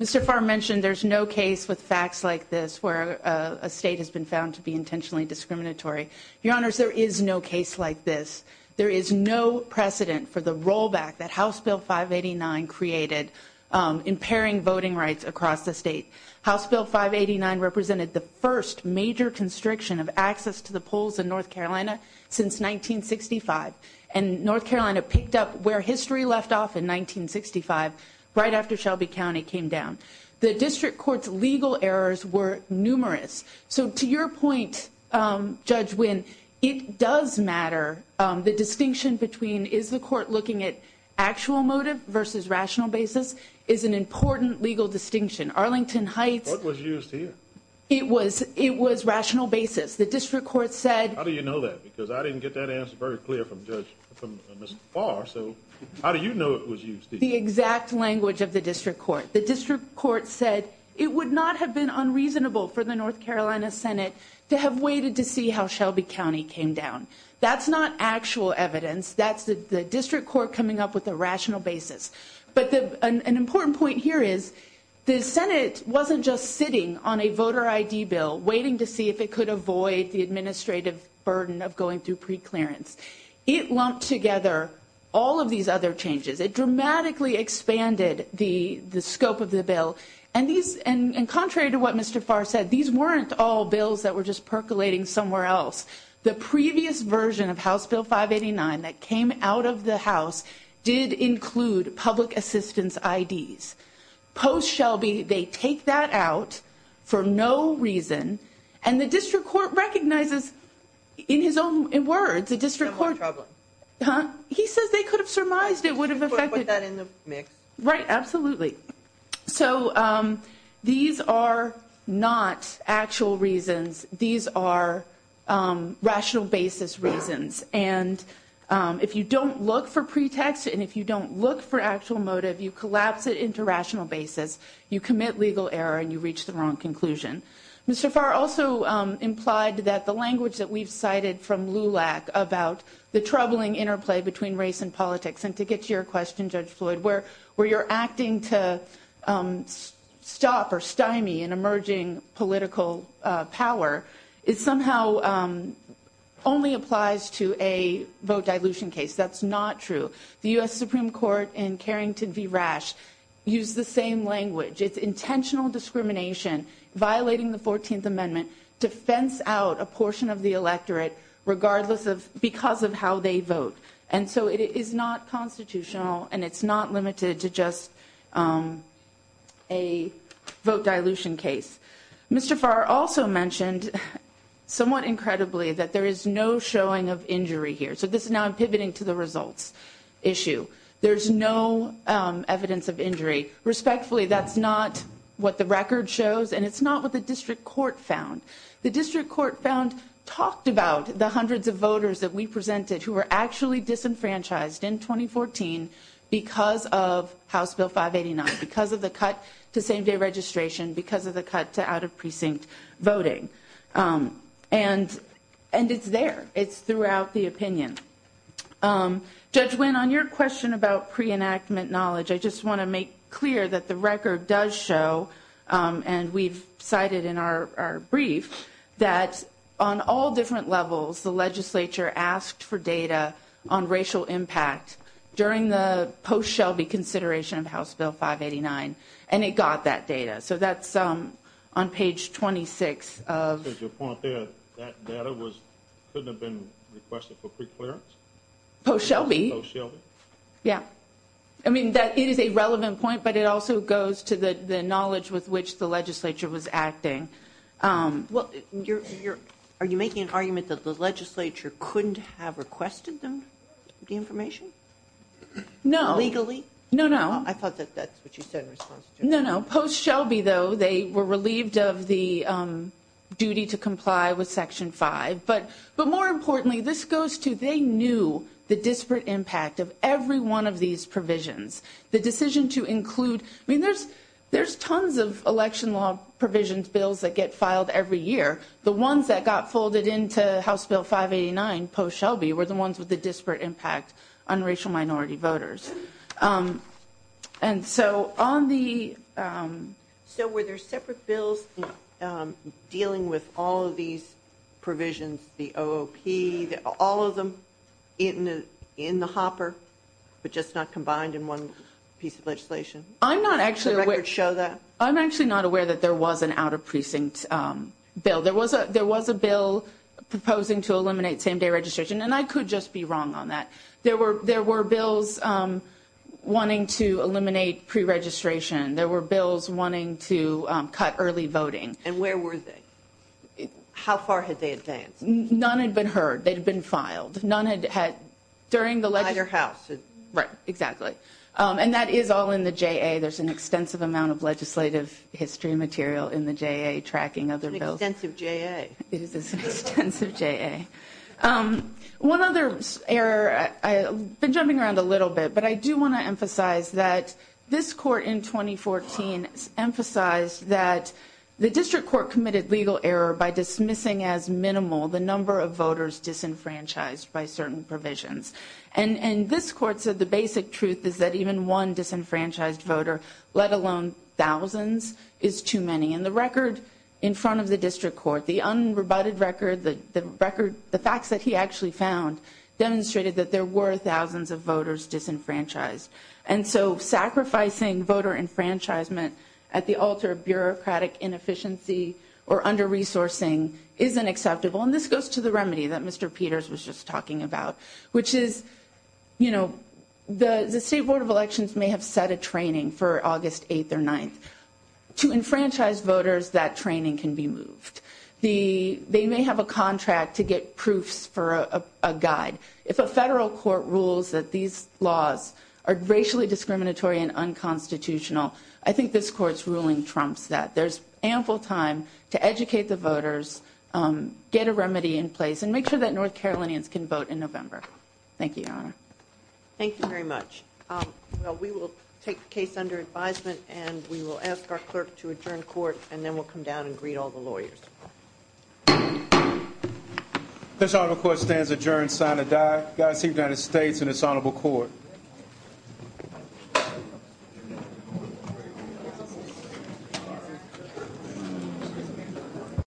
Mr. Farr mentioned there's no case with facts like this where a state has been found to be intentionally discriminatory. Your Honors, there is no case like this. There is no precedent for the rollback that House Bill 589 created impairing voting rights across the state. House Bill 589 represented the first major constriction of access to the polls in North Carolina since 1965. And North Carolina picked up where history left off in 1965 right after Shelby County came down. The district court's legal errors were numerous. So to your point, Judge Wynn, it does matter. The distinction between is the court looking at actual motive versus rational basis is an important legal distinction. Arlington Heights... What was used here? It was rational basis. The district court said... How do you know that? Because I didn't get that answer very clear from Mr. Farr. So how do you know it was used here? The exact language of the district court. The district court said it would not have been unreasonable for the North Carolina Senate to have waited to see how Shelby County came down. That's not actual evidence. That's the district court coming up with a rational basis. But an important point here is the Senate wasn't just sitting on a voter ID bill waiting to see if it could avoid the administrative burden of going through preclearance. It lumped together all of these other changes. It dramatically expanded the scope of the bill. Contrary to what Mr. Farr said, these weren't all bills that were just percolating somewhere else. The previous version of House Bill 589 that came out of the House did include public assistance IDs. Post-Shelby, they take that out for no reason, and the district court recognizes in his own words, the district court... He says they could have surmised it would have affected them. Right, absolutely. So these are not actual reasons. These are rational basis reasons. And if you don't look for pretext and if you don't look for actual motive, you collapse it into rational basis, you commit legal error, and you reach the wrong conclusion. Mr. Farr also implied that the language that we've cited from LULAC about the troubling interplay between race and politics, and to get to your question, Judge Floyd, where you're acting to stop or stymie an emerging political power somehow only applies to a vote dilution case. That's not true. The U.S. Supreme Court in Carrington v. Rash used the same language. It's intentional discrimination, violating the 14th Amendment, to fence out a portion of the electorate because of how they vote. And so it is not constitutional, and it's not limited to just a vote dilution case. Mr. Farr also mentioned somewhat incredibly that there is no showing of injury here. So now I'm pivoting to the results issue. There's no evidence of injury. Respectfully, that's not what the record shows, and it's not what the district court found. The district court found, talked about the hundreds of voters that we presented who were actually disenfranchised in 2014 because of House Bill 589, because of the cut to same-day registration, because of the cut to out-of-precinct voting. And it's there. It's throughout the opinion. Judge Wynn, on your question about pre-enactment knowledge, I just want to make clear that the record does show, and we've cited in our brief, that on all different levels, the legislature asked for data on racial impact during the post-Shelby consideration of House Bill 589, and it got that data. So that's on page 26 of... Your point there, that data couldn't have been requested for preclearance? Post-Shelby. Post-Shelby. Yeah. I mean, that is a relevant point, but it also goes to the knowledge with which the legislature was acting. Well, are you making an argument that the legislature couldn't have requested them the information? No. Legally? No, no. I thought that that's what you said. No, no. Post-Shelby, though, they were relieved of the duty to comply with Section 5. But more importantly, this goes to they knew the disparate impact of every one of these provisions. The decision to include... that get filed every year, the ones that got folded into House Bill 589 post-Shelby were the ones with the disparate impact on racial minority voters. And so on the... So were there separate bills dealing with all of these provisions, the OOP, all of them in the hopper, but just not combined in one piece of legislation? I'm not actually aware... Would you like to show that? I'm actually not aware that there was an out-of-precinct bill. There was a bill proposing to eliminate same-day registration, and I could just be wrong on that. There were bills wanting to eliminate preregistration. There were bills wanting to cut early voting. And where were they? How far had they advanced? None had been heard. They had been filed. None had had... At your house. Right. Exactly. And that is all in the JA. There's an extensive amount of legislative history material in the JA tracking other bills. It's an extensive JA. It is an extensive JA. One other error, I've been jumping around a little bit, but I do want to emphasize that this court in 2014 emphasized that the district court committed legal error by dismissing as minimal the number of voters disenfranchised by certain provisions. And this court said the basic truth is that even one disenfranchised voter, let alone thousands, is too many. And the record in front of the district court, the unrebutted record, the facts that he actually found, demonstrated that there were thousands of voters disenfranchised. And so sacrificing voter enfranchisement at the altar of bureaucratic inefficiency or under-resourcing isn't acceptable. And this goes to the remedy that Mr. Peters was just talking about, which is, you know, the State Board of Elections may have set a training for August 8th or 9th. To enfranchise voters, that training can be moved. They may have a contract to get proofs for a guide. If a federal court rules that these laws are racially discriminatory and unconstitutional, I think this court's ruling trumps that. There's ample time to educate the voters, get a remedy in place, and make sure that North Carolinians can vote in November. Thank you, Your Honor. Thank you very much. We will take the case under advisement, and we will ask our clerk to adjourn court, and then we'll come down and greet all the lawyers. This honorable court stands adjourned, sign and die. Godspeed to the United States and this honorable court.